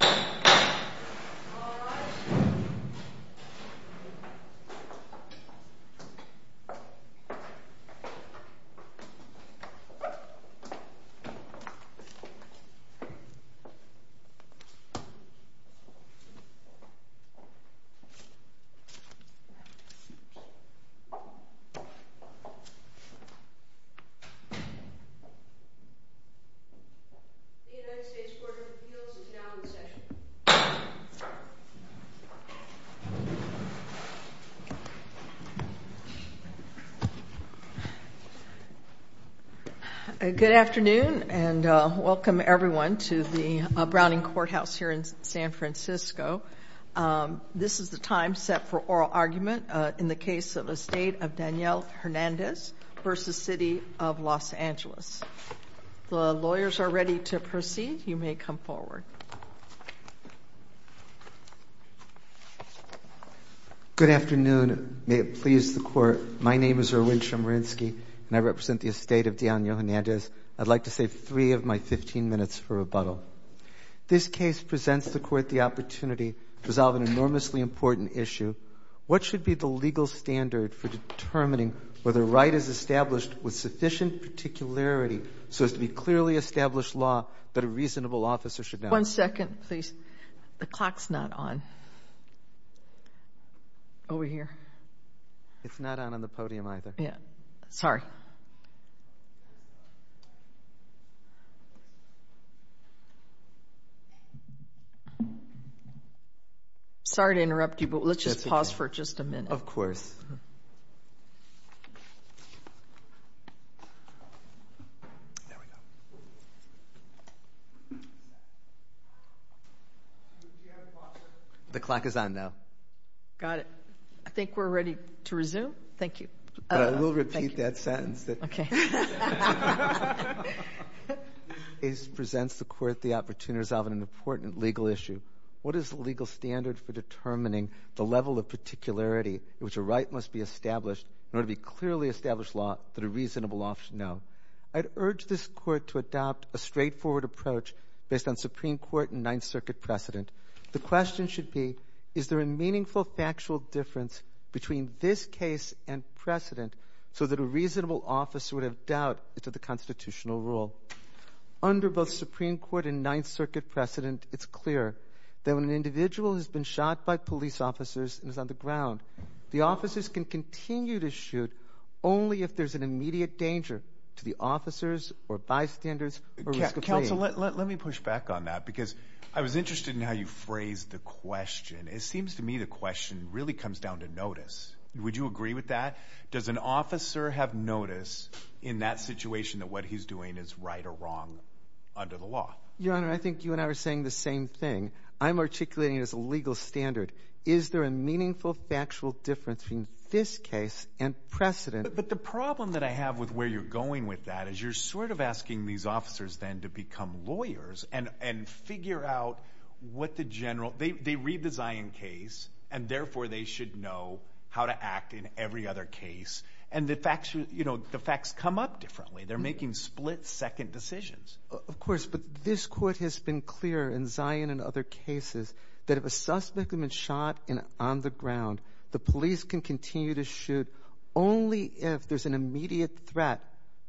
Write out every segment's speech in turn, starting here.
Alright The United States Court of Appeals is now in session. Good afternoon and welcome everyone to the Browning Courthouse here in San Francisco. This is the time set for oral argument in the case of the State of Daniel Hernandez v. City of Los Angeles. The lawyers are ready to proceed. You may come forward. Good afternoon. May it please the Court, my name is Erwin Chemerinsky and I represent the estate of Daniel Hernandez. I'd like to save three of my 15 minutes for rebuttal. This case presents the Court the opportunity to resolve an enormously important issue. What should be the legal standard for determining whether a right is established with sufficient particularity so as to be clearly established law that a reasonable officer should know? One second please. The clock's not on. Over here. It's not on the podium either. Sorry. Sorry to interrupt you, but let's just pause for just a minute. The clock is on now. Got it. I think we're ready to resume. Thank you. We'll repeat that sentence. This case presents the Court the opportunity to resolve an important legal issue. What is the legal standard for determining the level of particularity in which a right must be established in order to be clearly established law that a reasonable officer should know? I'd urge this Court to adopt a straightforward approach based on Supreme Court and Ninth Circuit precedent. The question should be, is there a meaningful factual difference between this case and precedent so that a reasonable officer would have doubt as to the constitutional rule? Under both Supreme Court and Ninth Circuit precedent, it's clear that when an individual has been shot by police officers and is on the ground, the officers can continue to shoot only if there's an immediate danger to the officers or bystanders or risk of fleeing. Let me push back on that because I was interested in how you phrased the question. It seems to me the question really comes down to notice. Would you agree with that? Does an officer have notice in that situation that what he's doing is right or wrong under the law? Your Honor, I think you and I were saying the same thing. I'm articulating it as a legal standard. Is there a meaningful factual difference between this case and precedent? But the problem that I have with where you're going with that is you're sort of asking these officers then to become lawyers and figure out what the general – they read the Zion case and, therefore, they should know how to act in every other case. And the facts come up differently. They're making split-second decisions. Of course, but this court has been clear in Zion and other cases that if a suspect has been shot and on the ground, the police can continue to shoot only if there's an immediate threat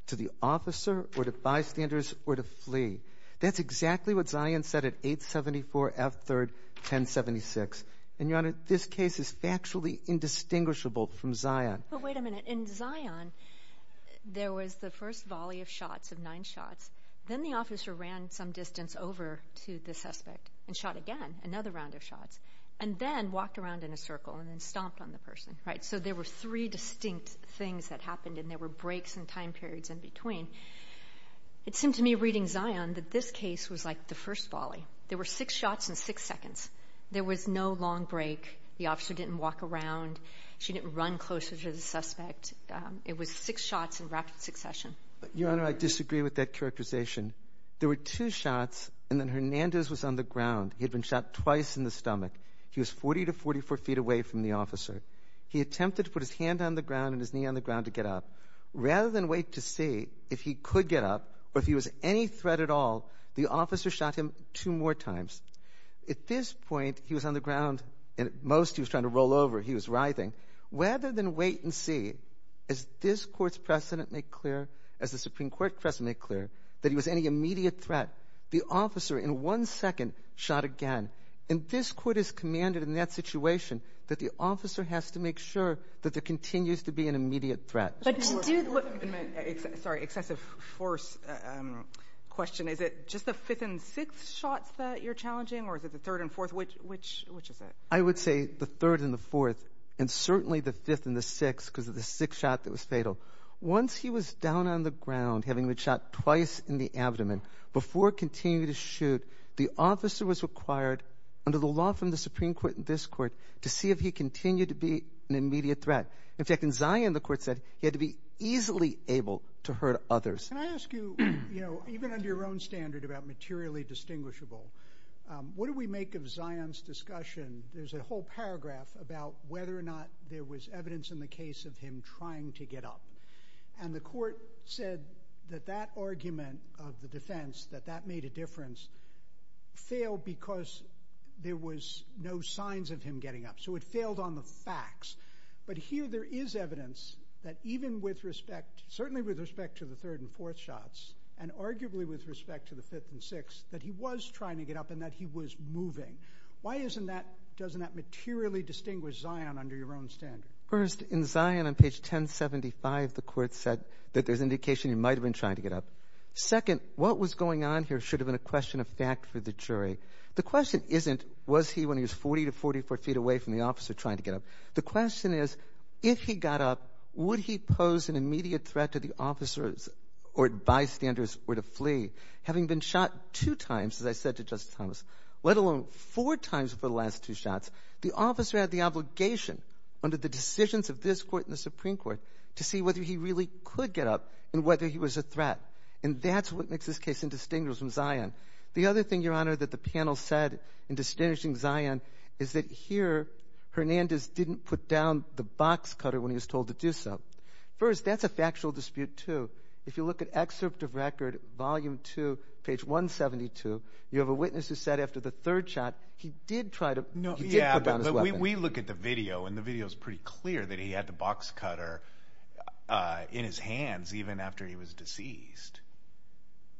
to the officer or to bystanders or to flee. That's exactly what Zion said at 874 F 3rd 1076. And, Your Honor, this case is factually indistinguishable from Zion. But wait a minute. In Zion, there was the first volley of shots, of nine shots. Then the officer ran some distance over to the suspect and shot again, another round of shots, and then walked around in a circle and then stomped on the person, right? So there were three distinct things that happened, and there were breaks and time periods in between. It seemed to me reading Zion that this case was like the first volley. There were six shots in six seconds. There was no long break. The officer didn't walk around. She didn't run closer to the suspect. It was six shots in rapid succession. Your Honor, I disagree with that characterization. There were two shots, and then Hernandez was on the ground. He had been shot twice in the stomach. He was 40 to 44 feet away from the officer. He attempted to put his hand on the ground and his knee on the ground to get up. Rather than wait to see if he could get up or if he was any threat at all, the officer shot him two more times. At this point, he was on the ground, and at most he was trying to roll over. He was writhing. Rather than wait and see, as this Court's precedent made clear, as the Supreme Court precedent made clear, that he was any immediate threat, the officer in one second shot again. And this Court has commanded in that situation that the officer has to make sure that there continues to be an immediate threat. Sorry, excessive force question. Is it just the fifth and sixth shots that you're challenging, or is it the third and fourth? Which is it? I would say the third and the fourth, and certainly the fifth and the sixth because of the sixth shot that was fatal. Once he was down on the ground, having been shot twice in the abdomen, before continuing to shoot, the officer was required, under the law from the Supreme Court and this Court, to see if he continued to be an immediate threat. In fact, in Zion, the Court said he had to be easily able to hurt others. Can I ask you, even under your own standard about materially distinguishable, what do we make of Zion's discussion? There's a whole paragraph about whether or not there was evidence in the case of him trying to get up. And the Court said that that argument of the defense, that that made a difference, failed because there was no signs of him getting up. So it failed on the facts. But here there is evidence that even with respect, certainly with respect to the third and fourth shots, and arguably with respect to the fifth and sixth, that he was trying to get up and that he was moving. Why doesn't that materially distinguish Zion under your own standard? First, in Zion, on page 1075, the Court said that there's indication he might have been trying to get up. Second, what was going on here should have been a question of fact for the jury. The question isn't, was he, when he was 40 to 44 feet away from the officer, trying to get up? The question is, if he got up, would he pose an immediate threat to the officers or bystanders were to flee? Having been shot two times, as I said to Justice Thomas, let alone four times for the last two shots, the officer had the obligation under the decisions of this Court and the Supreme Court to see whether he really could get up and whether he was a threat. And that's what makes this case indistinguishable from Zion. The other thing, Your Honor, that the panel said in distinguishing Zion is that here, Hernandez didn't put down the box cutter when he was told to do so. First, that's a factual dispute, too. If you look at excerpt of record, volume two, page 172, you have a witness who said after the third shot, he did try to put down his weapon. We look at the video, and the video is pretty clear that he had the box cutter in his hands even after he was deceased.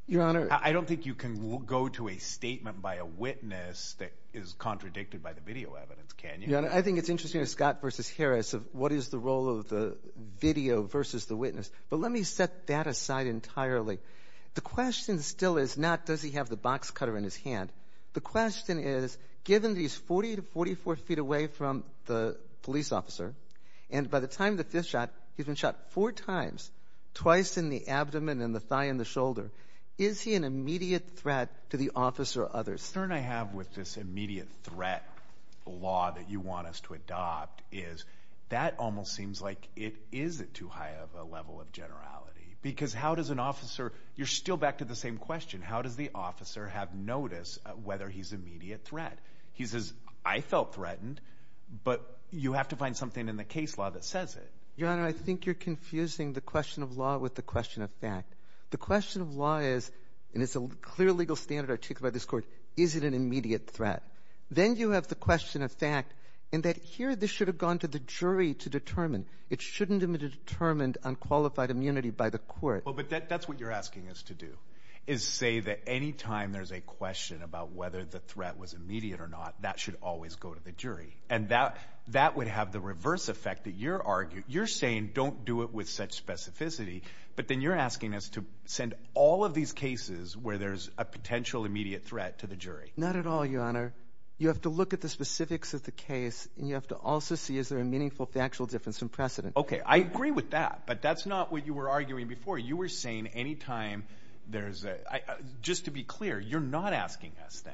Your Honor. I don't think you can go to a statement by a witness that is contradicted by the video evidence, can you? I think it's interesting, Scott versus Harris, what is the role of the video versus the witness. But let me set that aside entirely. The question still is not does he have the box cutter in his hand. The question is, given that he's 40 to 44 feet away from the police officer, and by the time the fifth shot, he's been shot four times, twice in the abdomen and the thigh and the shoulder. Is he an immediate threat to the officer or others? The concern I have with this immediate threat law that you want us to adopt is that almost seems like it is too high of a level of generality. Because how does an officer, you're still back to the same question, how does the officer have notice whether he's an immediate threat? He says, I felt threatened, but you have to find something in the case law that says it. Your Honor, I think you're confusing the question of law with the question of fact. The question of law is, and it's a clear legal standard articulated by this court, is it an immediate threat? Then you have the question of fact in that here this should have gone to the jury to determine. It shouldn't have been determined on qualified immunity by the court. But that's what you're asking us to do, is say that any time there's a question about whether the threat was immediate or not, that should always go to the jury. And that would have the reverse effect that you're arguing. You're saying don't do it with such specificity, but then you're asking us to send all of these cases where there's a potential immediate threat to the jury. Not at all, Your Honor. You have to look at the specifics of the case, and you have to also see is there a meaningful factual difference in precedent. Okay. I agree with that, but that's not what you were arguing before. You were saying any time there's a – just to be clear, you're not asking us then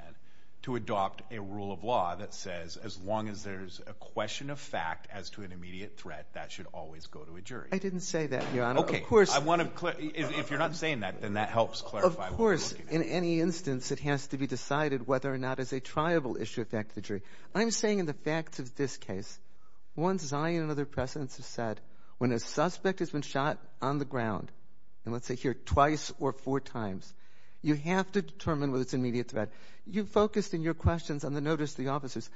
to adopt a rule of law that says as long as there's a question of fact as to an immediate threat, that should always go to a jury. I didn't say that, Your Honor. Okay. I want to – if you're not saying that, then that helps clarify what you're looking at. Of course. In any instance, it has to be decided whether or not it's a triable issue that affects the jury. I'm saying in the facts of this case, one, Zion and other precedents have said when a suspect has been shot on the ground, and let's say here twice or four times, you have to determine whether it's an immediate threat. You focused in your questions on the notice to the officers.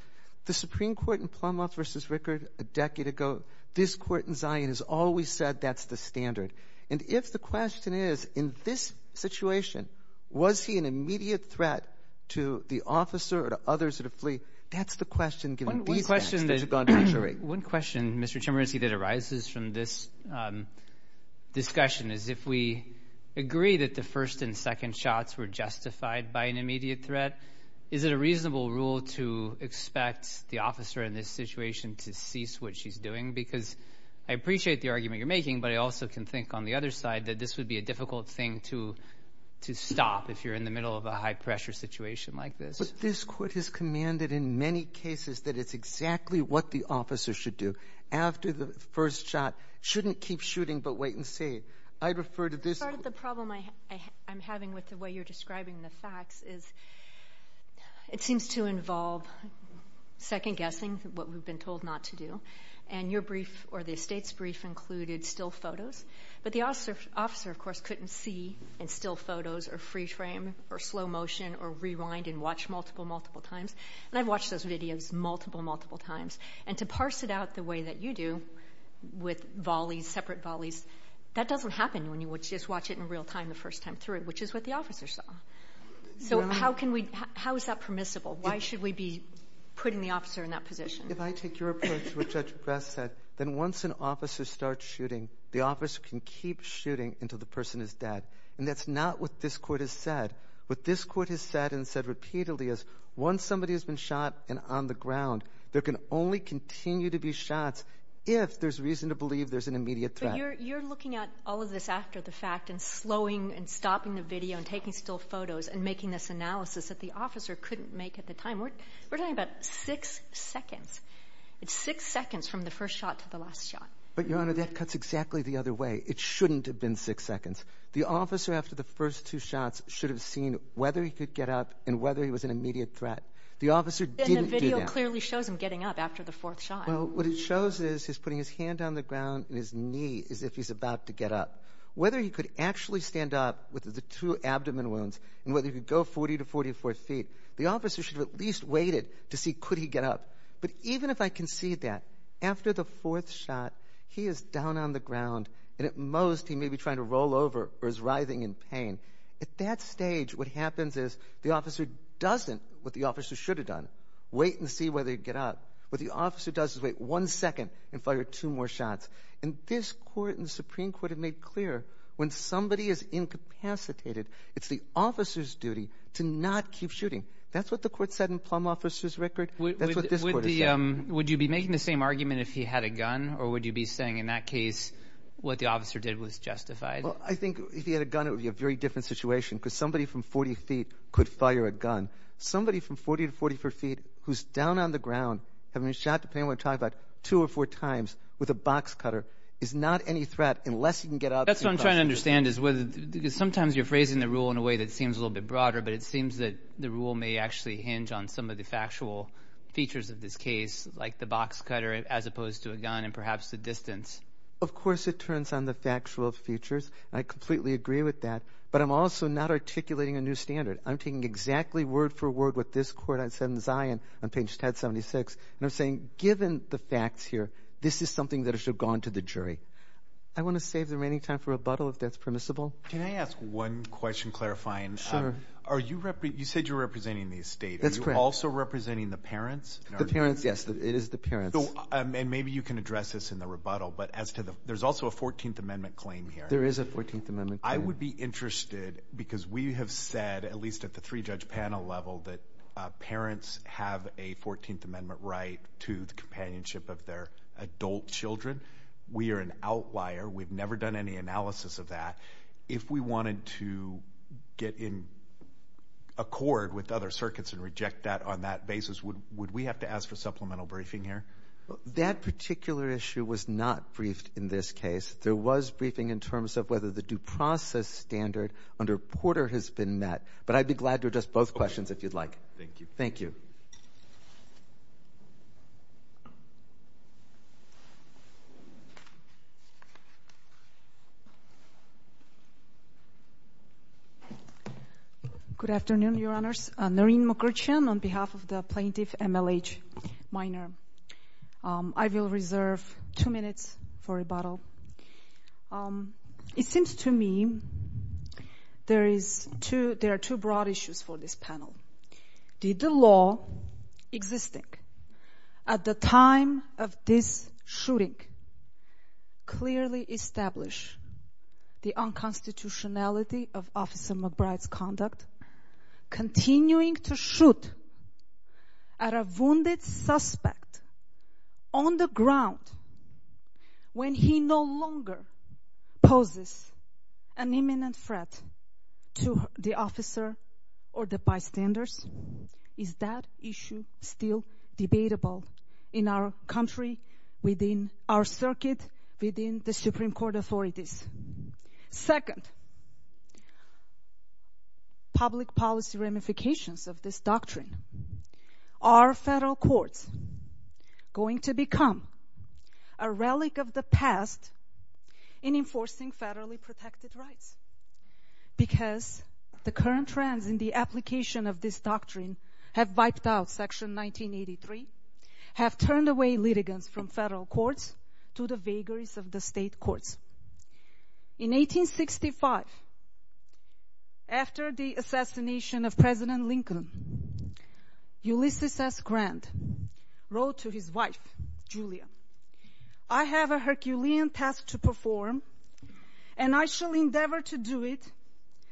The Supreme Court in Plummouth v. Rickard a decade ago, this court in Zion has always said that's the standard. And if the question is in this situation, was he an immediate threat to the officer or to others that have fleed, that's the question given these facts that have gone to the jury. One question, Mr. Chemerinsky, that arises from this discussion is if we agree that the first and second shots were justified by an immediate threat, is it a reasonable rule to expect the officer in this situation to cease what she's doing? Because I appreciate the argument you're making, but I also can think on the other side that this would be a difficult thing to stop if you're in the middle of a high-pressure situation like this. But this court has commanded in many cases that it's exactly what the officer should do. After the first shot, shouldn't keep shooting, but wait and see. I'd refer to this court. Part of the problem I'm having with the way you're describing the facts is it seems to involve second guessing what we've been told not to do. And your brief or the estate's brief included still photos. But the officer, of course, couldn't see in still photos or free frame or slow motion or rewind and watch multiple, multiple times. And I've watched those videos multiple, multiple times. And to parse it out the way that you do with volleys, separate volleys, that doesn't happen when you just watch it in real time the first time through, which is what the officer saw. So how is that permissible? Why should we be putting the officer in that position? If I take your approach to what Judge Grass said, then once an officer starts shooting, the officer can keep shooting until the person is dead. And that's not what this court has said. What this court has said and said repeatedly is once somebody has been shot and on the ground, there can only continue to be shots if there's reason to believe there's an immediate threat. But you're looking at all of this after the fact and slowing and stopping the video and taking still photos and making this analysis that the officer couldn't make at the time. We're talking about six seconds. It's six seconds from the first shot to the last shot. But, Your Honor, that cuts exactly the other way. It shouldn't have been six seconds. The officer after the first two shots should have seen whether he could get up and whether he was an immediate threat. The officer didn't do that. And the video clearly shows him getting up after the fourth shot. Well, what it shows is he's putting his hand on the ground and his knee as if he's about to get up. Whether he could actually stand up with the two abdomen wounds and whether he could go 40 to 44 feet, the officer should have at least waited to see could he get up. But even if I can see that, after the fourth shot, he is down on the ground, and at most, he may be trying to roll over or is writhing in pain. At that stage, what happens is the officer doesn't what the officer should have done, wait and see whether he'd get up. What the officer does is wait one second and fire two more shots. And this court and the Supreme Court have made clear when somebody is incapacitated, it's the officer's duty to not keep shooting. That's what the court said in Plum Officer's Record. That's what this court has said. Would you be making the same argument if he had a gun or would you be saying in that case what the officer did was justified? Well, I think if he had a gun, it would be a very different situation because somebody from 40 feet could fire a gun. Somebody from 40 to 44 feet who's down on the ground, having been shot, depending on what you're talking about, two or four times with a box cutter is not any threat unless he can get up. That's what I'm trying to understand is whether – because sometimes you're phrasing the rule in a way that seems a little bit broader, but it seems that the rule may actually hinge on some of the factual features of this case like the box cutter as opposed to a gun and perhaps the distance. Of course it turns on the factual features, and I completely agree with that. But I'm also not articulating a new standard. I'm taking exactly word for word what this court has said in Zion on page 1076, and I'm saying given the facts here, this is something that should have gone to the jury. I want to save the remaining time for rebuttal if that's permissible. Can I ask one question clarifying? Are you – you said you're representing the estate. That's correct. Are you also representing the parents? The parents, yes. It is the parents. And maybe you can address this in the rebuttal, but as to the – there's also a 14th Amendment claim here. There is a 14th Amendment claim. I would be interested because we have said, at least at the three-judge panel level, that parents have a 14th Amendment right to the companionship of their adult children. We are an outlier. We've never done any analysis of that. If we wanted to get in accord with other circuits and reject that on that basis, would we have to ask for supplemental briefing here? That particular issue was not briefed in this case. There was briefing in terms of whether the due process standard under Porter has been met. But I'd be glad to address both questions if you'd like. Good afternoon, Your Honors. Noreen Mukherjee on behalf of the plaintiff, MLH Minor. I will reserve two minutes for rebuttal. It seems to me there are two broad issues for this panel. Did the law existing at the time of this shooting clearly establish the unconstitutionality of Officer McBride's conduct, continuing to shoot at a wounded suspect on the ground when he no longer poses an imminent threat to the officer or the bystanders? Is that issue still debatable in our country, within our circuit, within the Supreme Court authorities? Second, public policy ramifications of this doctrine. Are federal courts going to become a relic of the past in enforcing federally protected rights? Because the current trends in the application of this doctrine have wiped out Section 1983, have turned away litigants from federal courts to the vagaries of the state courts. In 1865, after the assassination of President Lincoln, Ulysses S. Grant wrote to his wife, Julia, I have a Herculean task to perform, and I shall endeavor to do it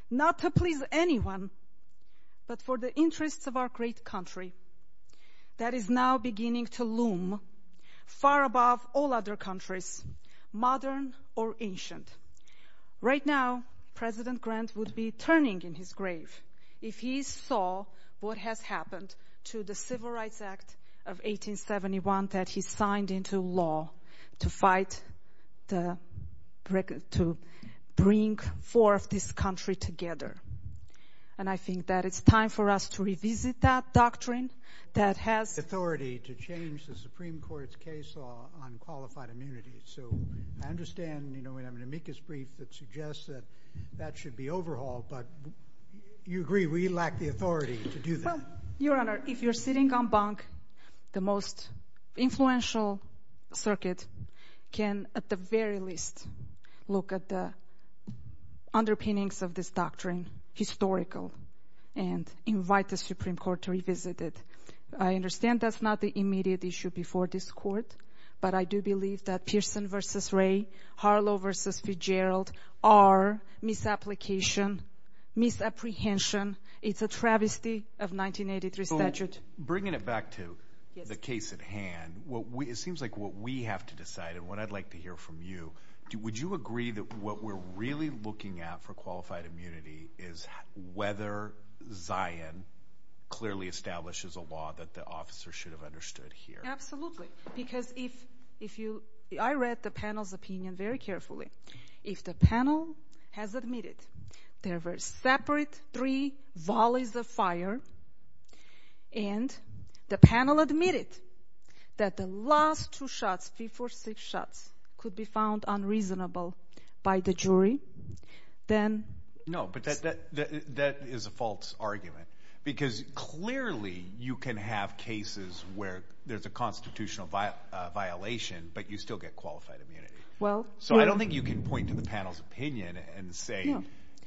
not to please anyone, but for the interests of our great country that is now beginning to loom far above all other countries, modern or ancient. Right now, President Grant would be turning in his grave if he saw what has happened to the Civil Rights Act of 1871 that he signed into law to fight, to bring forth this country together. And I think that it's time for us to revisit that doctrine that has authority to change the Supreme Court's case law on qualified immunity. So I understand, you know, we have an amicus brief that suggests that that should be overhauled, but you agree we lack the authority to do that. Your Honor, if you're sitting on bunk, the most influential circuit can at the very least look at the underpinnings of this doctrine, historical, and invite the Supreme Court to revisit it. I understand that's not the immediate issue before this Court, but I do believe that Pearson v. Ray, Harlow v. Fitzgerald are misapplication, misapprehension. It's a travesty of 1983 statute. Well, bringing it back to the case at hand, it seems like what we have to decide, and what I'd like to hear from you, would you agree that what we're really looking at for qualified immunity is whether Zion clearly establishes a law that the officer should have understood here? Absolutely, because if you—I read the panel's opinion very carefully. If the panel has admitted there were separate three volleys of fire, and the panel admitted that the last two shots, five or six shots, could be found unreasonable by the jury, then— No, but that is a false argument, because clearly you can have cases where there's a constitutional violation, but you still get qualified immunity. So I don't think you can point to the panel's opinion and say,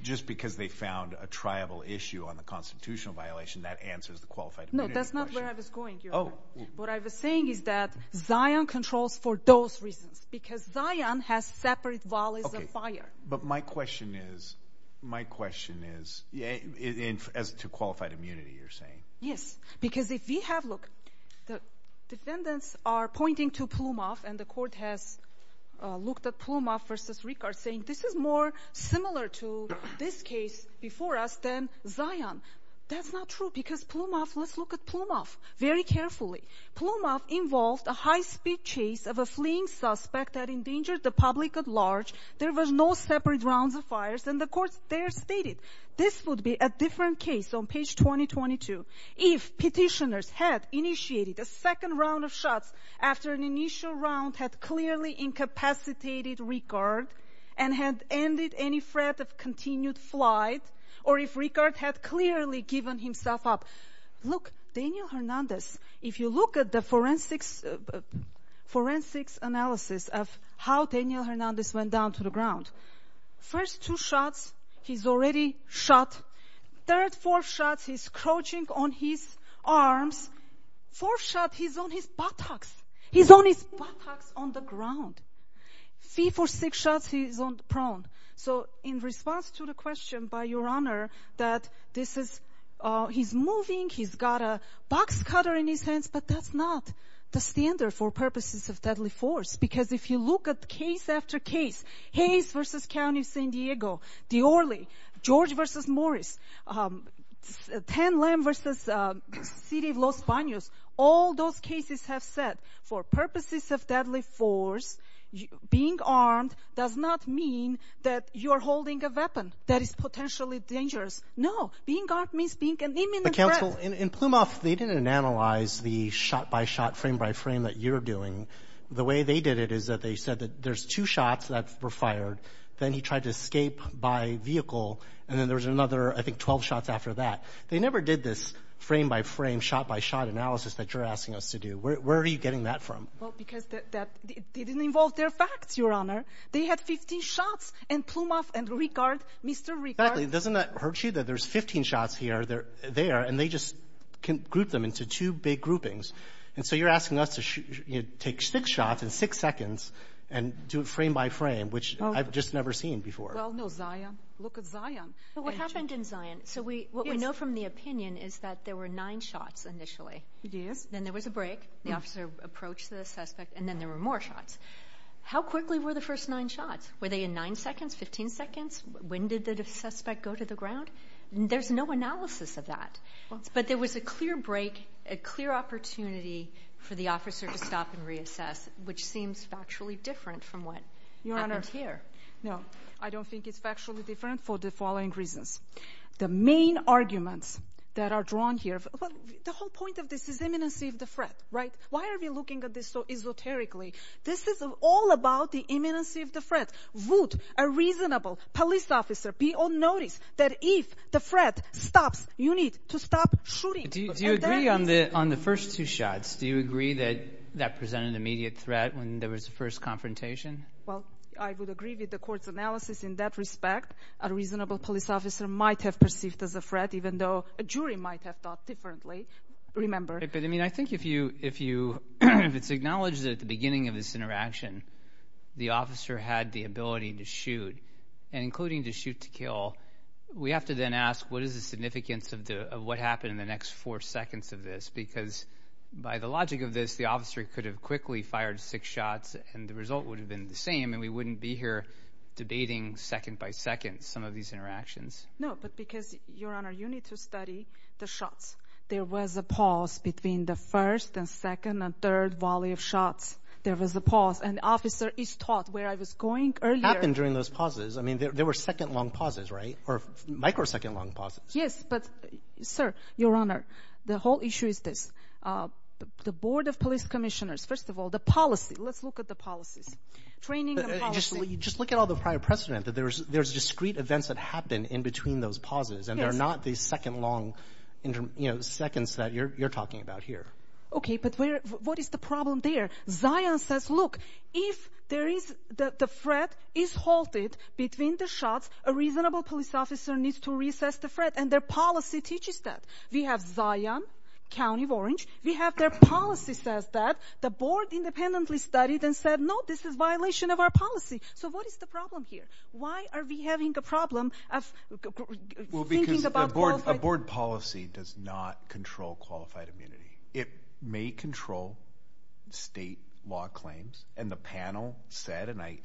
just because they found a tribal issue on the constitutional violation, that answers the qualified immunity question. No, that's not where I was going, Your Honor. What I was saying is that Zion controls for those reasons, because Zion has separate volleys of fire. But my question is, as to qualified immunity, you're saying— Yes, because if we have—look, the defendants are pointing to Plumov, and the court has looked at Plumov versus Rickard, saying this is more similar to this case before us than Zion. That's not true, because Plumov—let's look at Plumov very carefully. Plumov involved a high-speed chase of a fleeing suspect that endangered the public at large. There were no separate rounds of fires, and the court there stated this would be a different case on page 2022 if petitioners had initiated a second round of shots after an initial round had clearly incapacitated Rickard and had ended any threat of continued flight, or if Rickard had clearly given himself up. Look, Daniel Hernandez, if you look at the forensics analysis of how Daniel Hernandez went down to the ground, first two shots, he's already shot. Third, fourth shots, he's crouching on his arms. Fourth shot, he's on his buttocks. He's on his buttocks on the ground. Three, four, six shots, he's prone. So in response to the question by Your Honor that this is—he's moving, he's got a box cutter in his hands, but that's not the standard for purposes of deadly force, because if you look at case after case, Hayes versus County of San Diego, Diorley, George versus Morris, 10 Lamb versus City of Los Banos, all those cases have said for purposes of deadly force, being armed does not mean that you are holding a weapon that is potentially dangerous. No. Being armed means being an imminent threat. But, Counsel, in Plumas, they didn't analyze the shot-by-shot, frame-by-frame that you're doing. The way they did it is that they said that there's two shots that were fired. Then he tried to escape by vehicle, and then there was another, I think, 12 shots after that. They never did this frame-by-frame, shot-by-shot analysis that you're asking us to do. Where are you getting that from? Well, because that didn't involve their facts, Your Honor. They had 15 shots in Plumas and Ricard, Mr. Ricard. Exactly. Doesn't that hurt you that there's 15 shots here, there, and they just group them into two big groupings? And so you're asking us to take six shots in six seconds and do it frame-by-frame, which I've just never seen before. Well, no, Zion. Look at Zion. But what happened in Zion, so what we know from the opinion is that there were nine shots initially. Yes. Then there was a break, the officer approached the suspect, and then there were more shots. How quickly were the first nine shots? Were they in nine seconds, 15 seconds? When did the suspect go to the ground? There's no analysis of that. But there was a clear break, a clear opportunity for the officer to stop and reassess, which seems factually different from what happened here. No, I don't think it's factually different for the following reasons. The main arguments that are drawn here, the whole point of this is imminency of the threat, right? Why are we looking at this so esoterically? This is all about the imminency of the threat. Would a reasonable police officer be on notice that if the threat stops, you need to stop shooting? Do you agree on the first two shots? Do you agree that that presented an immediate threat when there was the first confrontation? Well, I would agree with the court's analysis in that respect. A reasonable police officer might have perceived as a threat, even though a jury might have thought differently. Remember. But, I mean, I think if it's acknowledged that at the beginning of this interaction, the officer had the ability to shoot, and including the shoot to kill, we have to then ask what is the significance of what happened in the next four seconds of this? Because by the logic of this, the officer could have quickly fired six shots, and the result would have been the same, and we wouldn't be here debating second by second some of these interactions. No, but because, Your Honor, you need to study the shots. There was a pause between the first and second and third volley of shots. There was a pause, and the officer is taught where I was going earlier. It happened during those pauses. I mean, there were second-long pauses, right, or micro-second-long pauses. Yes, but, sir, Your Honor, the whole issue is this. The Board of Police Commissioners, first of all, the policy. Let's look at the policies. Training and policy. Just look at all the prior precedent. There's discrete events that happened in between those pauses, and they're not these second-long seconds that you're talking about here. Okay, but what is the problem there? Zion says, look, if the threat is halted between the shots, a reasonable police officer needs to recess the threat, and their policy teaches that. We have Zion, County of Orange. We have their policy says that. The board independently studied and said, no, this is violation of our policy. So what is the problem here? Why are we having a problem of thinking about qualified immunity? Well, because a board policy does not control qualified immunity. It may control state law claims, and the panel said, and I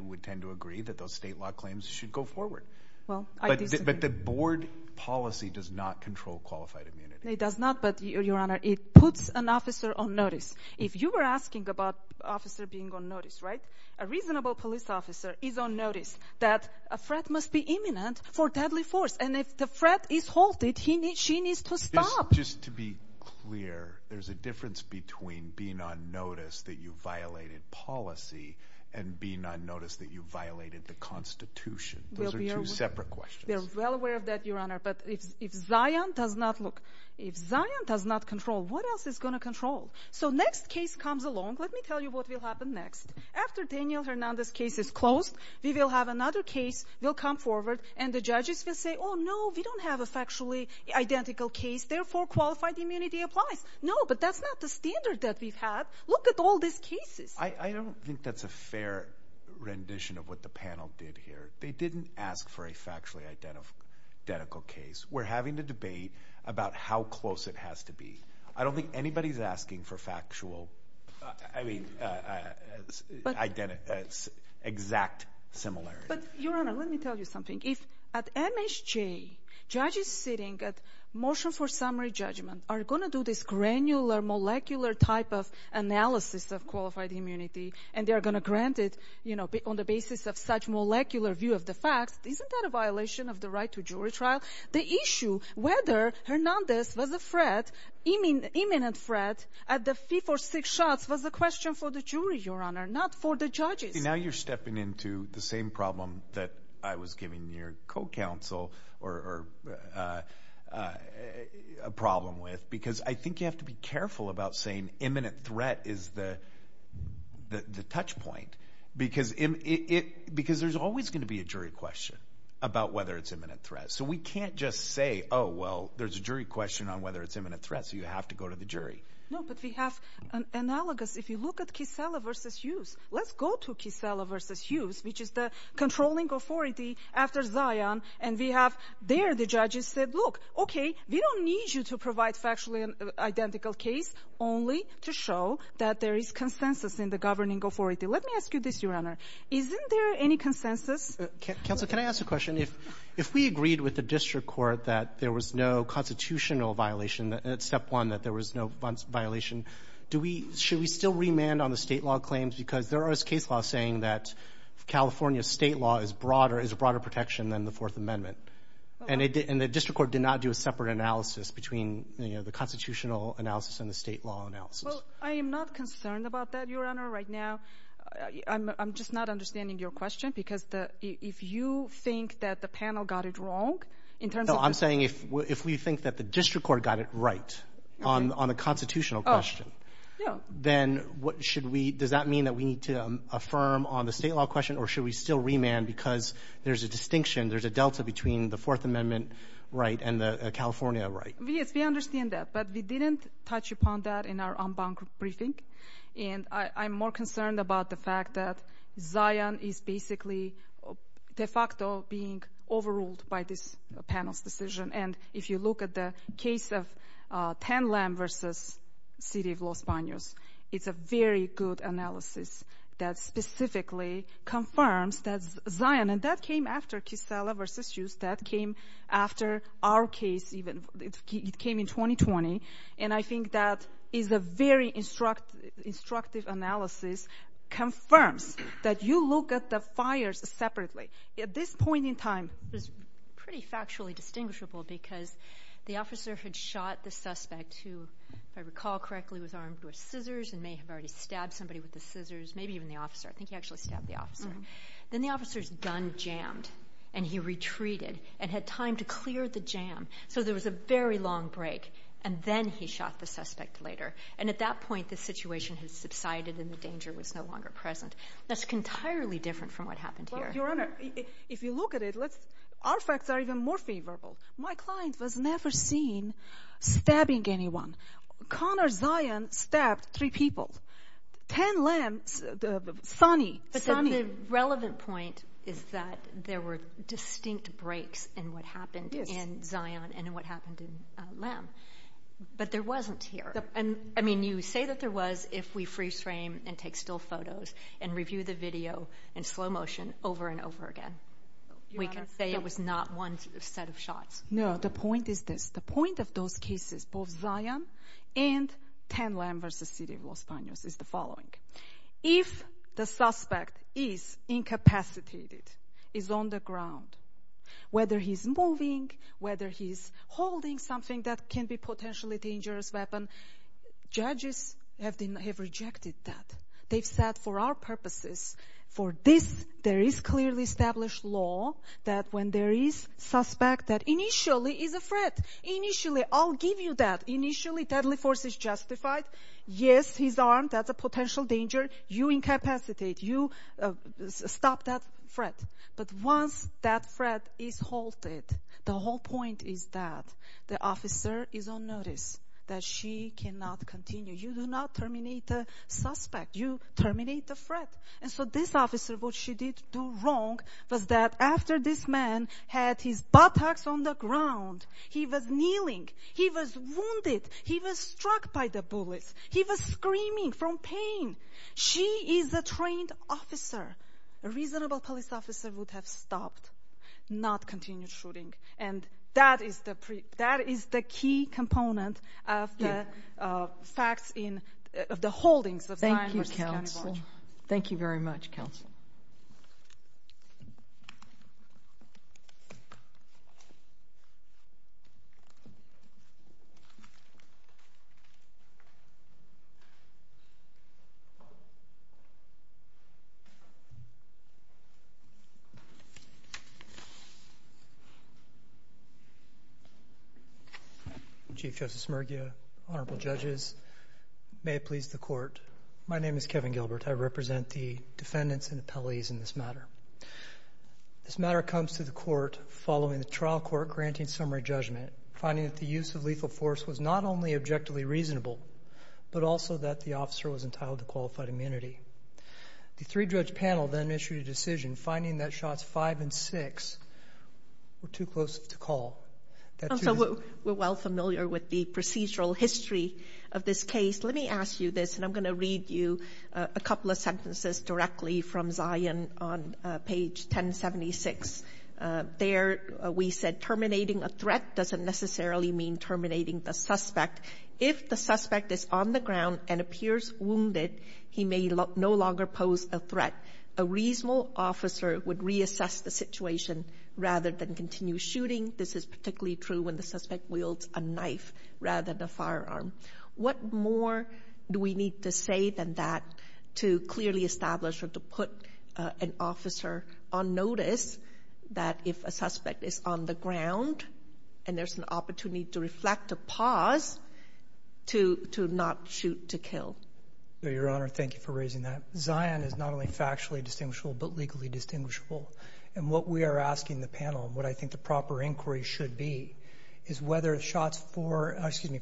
would tend to agree that those state law claims should go forward. But the board policy does not control qualified immunity. It does not, but, Your Honor, it puts an officer on notice. If you were asking about an officer being on notice, right, a reasonable police officer is on notice that a threat must be imminent for deadly force, and if the threat is halted, she needs to stop. Just to be clear, there's a difference between being on notice that you violated policy and being on notice that you violated the Constitution. Those are two separate questions. We're well aware of that, Your Honor, but if Zion does not look, if Zion does not control, what else is going to control? So next case comes along. Let me tell you what will happen next. After Daniel Hernandez's case is closed, we will have another case. We'll come forward, and the judges will say, oh, no, we don't have a factually identical case. Therefore, qualified immunity applies. No, but that's not the standard that we've had. Look at all these cases. I don't think that's a fair rendition of what the panel did here. They didn't ask for a factually identical case. We're having a debate about how close it has to be. I don't think anybody's asking for factual, I mean, exact similarity. But, Your Honor, let me tell you something. If at MSJ judges sitting at motion for summary judgment are going to do this granular molecular type of analysis of qualified immunity and they are going to grant it on the basis of such molecular view of the facts, isn't that a violation of the right to jury trial? The issue, whether Hernandez was a threat, imminent threat, at the fee for six shots, was a question for the jury, Your Honor, not for the judges. Now you're stepping into the same problem that I was giving your co-counsel a problem with because I think you have to be careful about saying imminent threat is the touch point because there's always going to be a jury question about whether it's imminent threat. So we can't just say, oh, well, there's a jury question on whether it's imminent threat, so you have to go to the jury. No, but we have analogous. If you look at Kissela v. Hughes, let's go to Kissela v. Hughes, which is the controlling authority after Zion, and we have there the judges said, look, okay, we don't need you to provide factually identical case only to show that there is consensus in the governing authority. Let me ask you this, Your Honor. Isn't there any consensus? Counsel, can I ask a question? If we agreed with the district court that there was no constitutional violation, that it's step one, that there was no violation, should we still remand on the State law claims? Because there is case law saying that California State law is a broader protection than the Fourth Amendment, and the district court did not do a separate analysis between the constitutional analysis and the State law analysis. I am not concerned about that, Your Honor, right now. I'm just not understanding your question because if you think that the panel got it wrong in terms of the— No, I'm saying if we think that the district court got it right on the constitutional question, then what should we—does that mean that we need to affirm on the State law question or should we still remand because there's a distinction, there's a delta between the Fourth Amendment right and the California right? Yes, we understand that, but we didn't touch upon that in our unbound briefing, and I'm more concerned about the fact that Zion is basically de facto being overruled by this panel's decision, and if you look at the case of Pan Lam v. City of Los Banos, it's a very good analysis that specifically confirms that Zion— and that came after Kissela v. Hughes, that came after our case even. It came in 2020, and I think that is a very instructive analysis, confirms that you look at the fires separately. At this point in time, it was pretty factually distinguishable because the officer had shot the suspect who, if I recall correctly, was armed with scissors and may have already stabbed somebody with the scissors, maybe even the officer. I think he actually stabbed the officer. Then the officer's gun jammed, and he retreated and had time to clear the jam, so there was a very long break, and then he shot the suspect later, and at that point the situation had subsided and the danger was no longer present. That's entirely different from what happened here. Your Honor, if you look at it, our facts are even more favorable. My client was never seen stabbing anyone. Connor Zion stabbed three people. Pan Lam, Sonny— But then the relevant point is that there were distinct breaks in what happened in Zion and in what happened in Lam, but there wasn't here. I mean, you say that there was if we free-frame and take still photos and review the video in slow motion over and over again, we can say it was not one set of shots. No, the point is this. The point of those cases, both Zion and Pan Lam v. City of Los Banos, is the following. If the suspect is incapacitated, is on the ground, whether he's moving, whether he's holding something that can be a potentially dangerous weapon, judges have rejected that. They've said, for our purposes, for this, there is clearly established law that when there is suspect that initially is a threat. Initially, I'll give you that. Initially, deadly force is justified. Yes, he's armed. That's a potential danger. You incapacitate. You stop that threat. But once that threat is halted, the whole point is that the officer is on notice that she cannot continue. You do not terminate the suspect. You terminate the threat. And so this officer, what she did do wrong was that after this man had his buttocks on the ground, he was kneeling, he was wounded, he was struck by the bullets, he was screaming from pain. She is a trained officer. A reasonable police officer would have stopped, not continued shooting. And that is the key component of the facts of the holdings of time versus county margin. Thank you very much, Counsel. Chief Justice Smergia, Honorable Judges, may it please the Court. My name is Kevin Gilbert. I represent the defendants and the appellees in this matter. This matter comes to the Court following the trial court granting summary judgment, finding that the use of lethal force was not only objectively reasonable, but also that the officer was entitled to qualified immunity. The three-judge panel then issued a decision, finding that shots five and six were too close to call. Counsel, we're well familiar with the procedural history of this case. Let me ask you this, and I'm going to read you a couple of sentences directly from Zion on page 1076. There we said, Terminating a threat doesn't necessarily mean terminating the suspect. If the suspect is on the ground and appears wounded, he may no longer pose a threat. A reasonable officer would reassess the situation rather than continue shooting. This is particularly true when the suspect wields a knife rather than a firearm. What more do we need to say than that to clearly establish or to put an officer on notice that if a suspect is on the ground and there's an opportunity to reflect a pause to not shoot to kill? Your Honor, thank you for raising that. Zion is not only factually distinguishable but legally distinguishable, and what we are asking the panel and what I think the proper inquiry should be is whether shots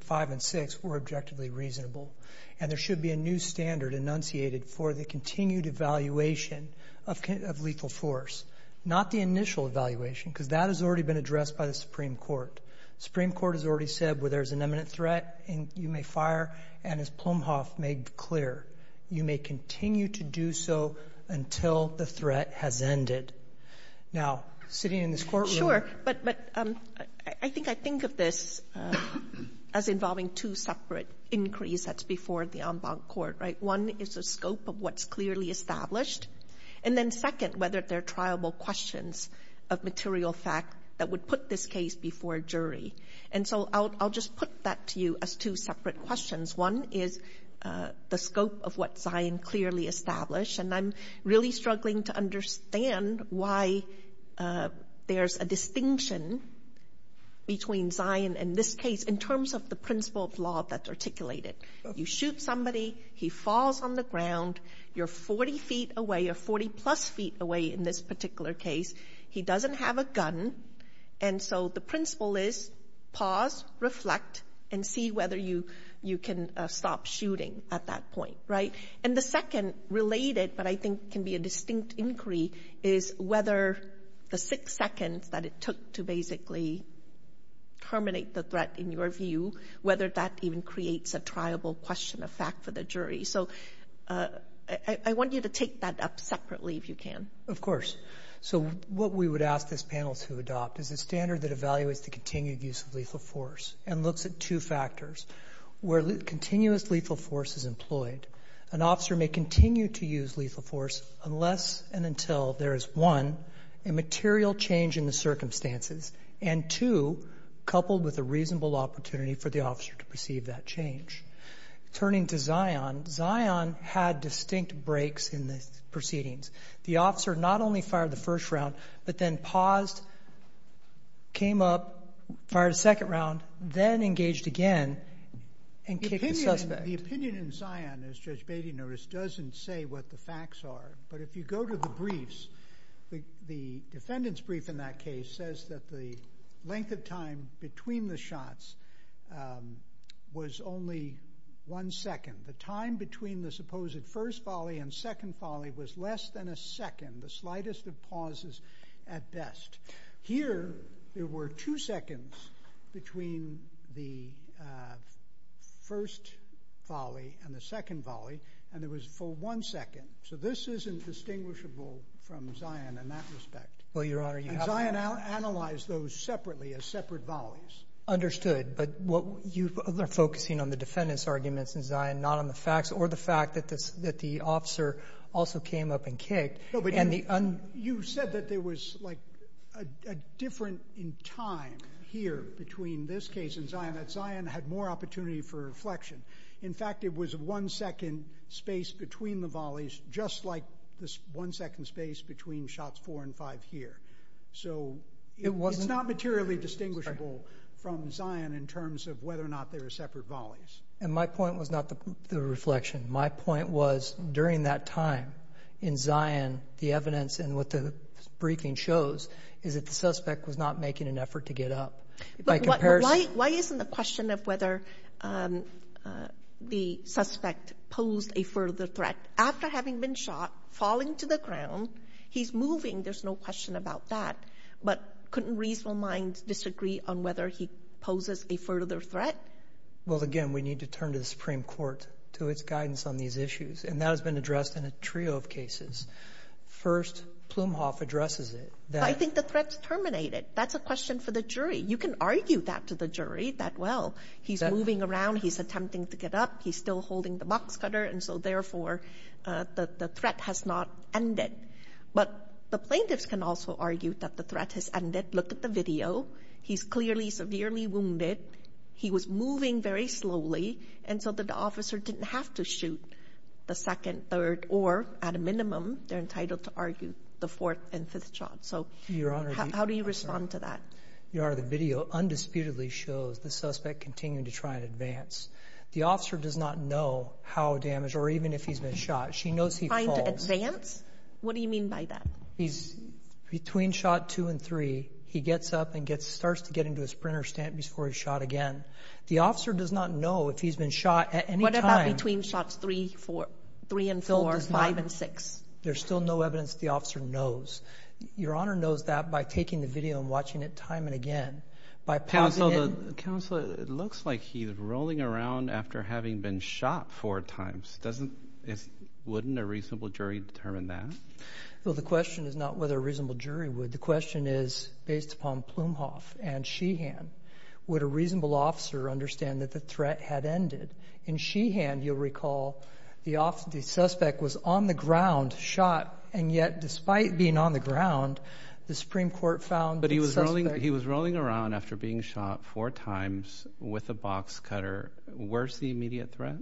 five and six were objectively reasonable, and there should be a new standard enunciated for the continued evaluation of lethal force, not the initial evaluation because that has already been addressed by the Supreme Court. The Supreme Court has already said where there's an imminent threat, you may fire, and as Plumhoff made clear, you may continue to do so until the threat has ended. Now, sitting in this courtroom. Sure, but I think I think of this as involving two separate inquiries that's before the en banc court. One is the scope of what's clearly established, and then second whether there are triable questions of material fact that would put this case before a jury. And so I'll just put that to you as two separate questions. One is the scope of what Zion clearly established, and I'm really struggling to understand why there's a distinction between Zion and this case in terms of the principle of law that's articulated. You shoot somebody, he falls on the ground, you're 40 feet away or 40-plus feet away in this particular case, he doesn't have a gun, and so the principle is pause, reflect, and see whether you can stop shooting at that point, right? And the second related but I think can be a distinct inquiry is whether the six seconds that it took to basically terminate the threat in your view, whether that even creates a triable question of fact for the jury. So I want you to take that up separately if you can. Of course. So what we would ask this panel to adopt is a standard that evaluates the continued use of lethal force and looks at two factors where continuous lethal force is employed. An officer may continue to use lethal force unless and until there is, one, a material change in the circumstances, and two, coupled with a reasonable opportunity for the officer to perceive that change. Turning to Zion, Zion had distinct breaks in the proceedings. The officer not only fired the first round but then paused, came up, fired a second round, then engaged again, and kicked the suspect. The opinion in Zion, as Judge Beatty noticed, doesn't say what the facts are, but if you go to the briefs, the defendant's brief in that case says that the length of time between the shots was only one second. The time between the supposed first volley and second volley was less than a second, the slightest of pauses at best. Here there were two seconds between the first volley and the second volley, and it was for one second. So this isn't distinguishable from Zion in that respect. And Zion analyzed those separately as separate volleys. Understood. But you are focusing on the defendant's arguments in Zion, not on the facts or the fact that the officer also came up and kicked. You said that there was, like, a difference in time here between this case and Zion, that Zion had more opportunity for reflection. In fact, it was a one-second space between the volleys, just like this one-second space between shots four and five here. So it's not materially distinguishable from Zion in terms of whether or not they were separate volleys. And my point was not the reflection. My point was during that time in Zion, the evidence and what the briefing shows is that the suspect was not making an effort to get up. Why isn't the question of whether the suspect posed a further threat? After having been shot, falling to the ground, he's moving. There's no question about that. But couldn't reasonable minds disagree on whether he poses a further threat? Well, again, we need to turn to the Supreme Court to its guidance on these issues, and that has been addressed in a trio of cases. First, Plumhoff addresses it. I think the threat's terminated. That's a question for the jury. You can argue that to the jury, that, well, he's moving around, he's attempting to get up, he's still holding the box cutter, and so, therefore, the threat has not ended. But the plaintiffs can also argue that the threat has ended. Look at the video. He's clearly severely wounded. He was moving very slowly, and so the officer didn't have to shoot the second, third, or at a minimum, they're entitled to argue the fourth and fifth shot. So how do you respond to that? Your Honor, the video undisputedly shows the suspect continuing to try and advance. The officer does not know how damaged or even if he's been shot. She knows he falls. What do you mean by that? He's between shot two and three. He gets up and starts to get into a sprinter's stand before he's shot again. The officer does not know if he's been shot at any time. What about between shots three and four, five and six? There's still no evidence the officer knows. Your Honor knows that by taking the video and watching it time and again. Counsel, it looks like he's rolling around after having been shot four times. Wouldn't a reasonable jury determine that? Well, the question is not whether a reasonable jury would. The question is, based upon Plumhoff and Sheehan, would a reasonable officer understand that the threat had ended? In Sheehan, you'll recall the suspect was on the ground, shot, and yet despite being on the ground, the Supreme Court found the suspect. But he was rolling around after being shot four times with a box cutter. Where's the immediate threat?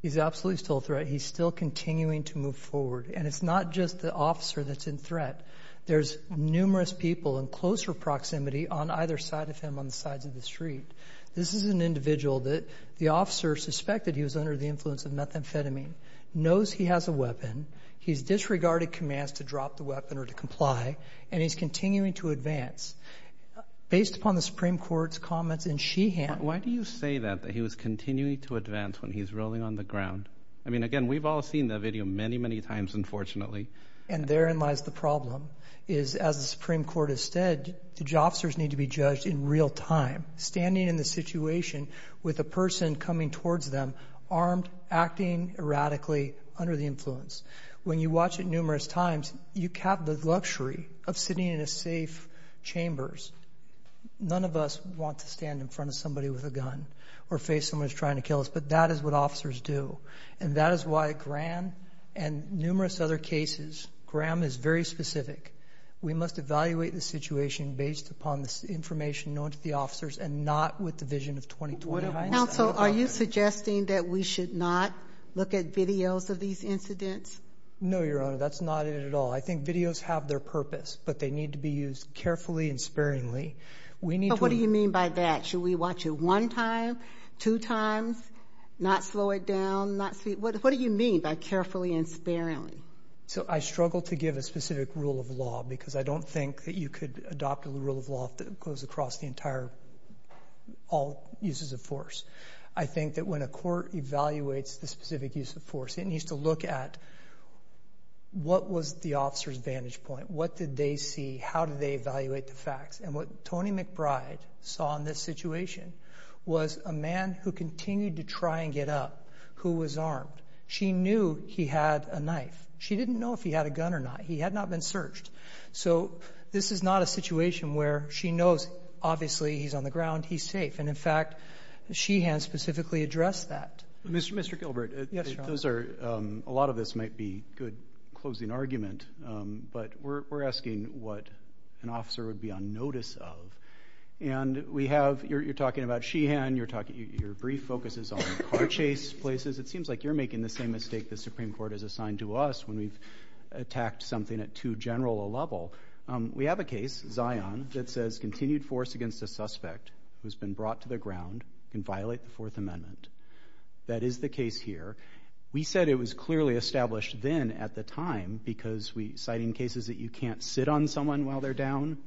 He's absolutely still a threat. He's still continuing to move forward. And it's not just the officer that's in threat. There's numerous people in closer proximity on either side of him on the sides of the street. This is an individual that the officer suspected he was under the influence of methamphetamine, knows he has a weapon, he's disregarded commands to drop the weapon or to comply, and he's continuing to advance. Based upon the Supreme Court's comments in Sheehan Why do you say that, that he was continuing to advance when he's rolling on the ground? I mean, again, we've all seen that video many, many times, unfortunately. And therein lies the problem, is as the Supreme Court has said, the officers need to be judged in real time, standing in the situation with a person coming towards them, armed, acting erratically, under the influence. When you watch it numerous times, you cap the luxury of sitting in safe chambers. None of us want to stand in front of somebody with a gun or face someone who's trying to kill us, but that is what officers do. And that is why Graham and numerous other cases, Graham is very specific, we must evaluate the situation based upon the information known to the officers and not with the vision of 2020. Counsel, are you suggesting that we should not look at videos of these incidents? No, Your Honor, that's not it at all. I think videos have their purpose, but they need to be used carefully and sparingly. But what do you mean by that? Should we watch it one time, two times, not slow it down, not speed? What do you mean by carefully and sparingly? So I struggle to give a specific rule of law because I don't think that you could adopt a rule of law that goes across all uses of force. I think that when a court evaluates the specific use of force, it needs to look at what was the officer's vantage point. What did they see? How did they evaluate the facts? And what Toni McBride saw in this situation was a man who continued to try and get up who was armed. She knew he had a knife. She didn't know if he had a gun or not. He had not been searched. So this is not a situation where she knows, obviously, he's on the ground, he's safe. And, in fact, she has specifically addressed that. Mr. Gilbert, a lot of this might be good closing argument, but we're asking what an officer would be on notice of. And you're talking about Sheehan. Your brief focuses on car chase places. It seems like you're making the same mistake the Supreme Court has assigned to us when we've attacked something at too general a level. We have a case, Zion, that says continued force against a suspect who has been brought to the ground can violate the Fourth Amendment. That is the case here. We said it was clearly established then at the time because we're citing cases that you can't sit on someone while they're down,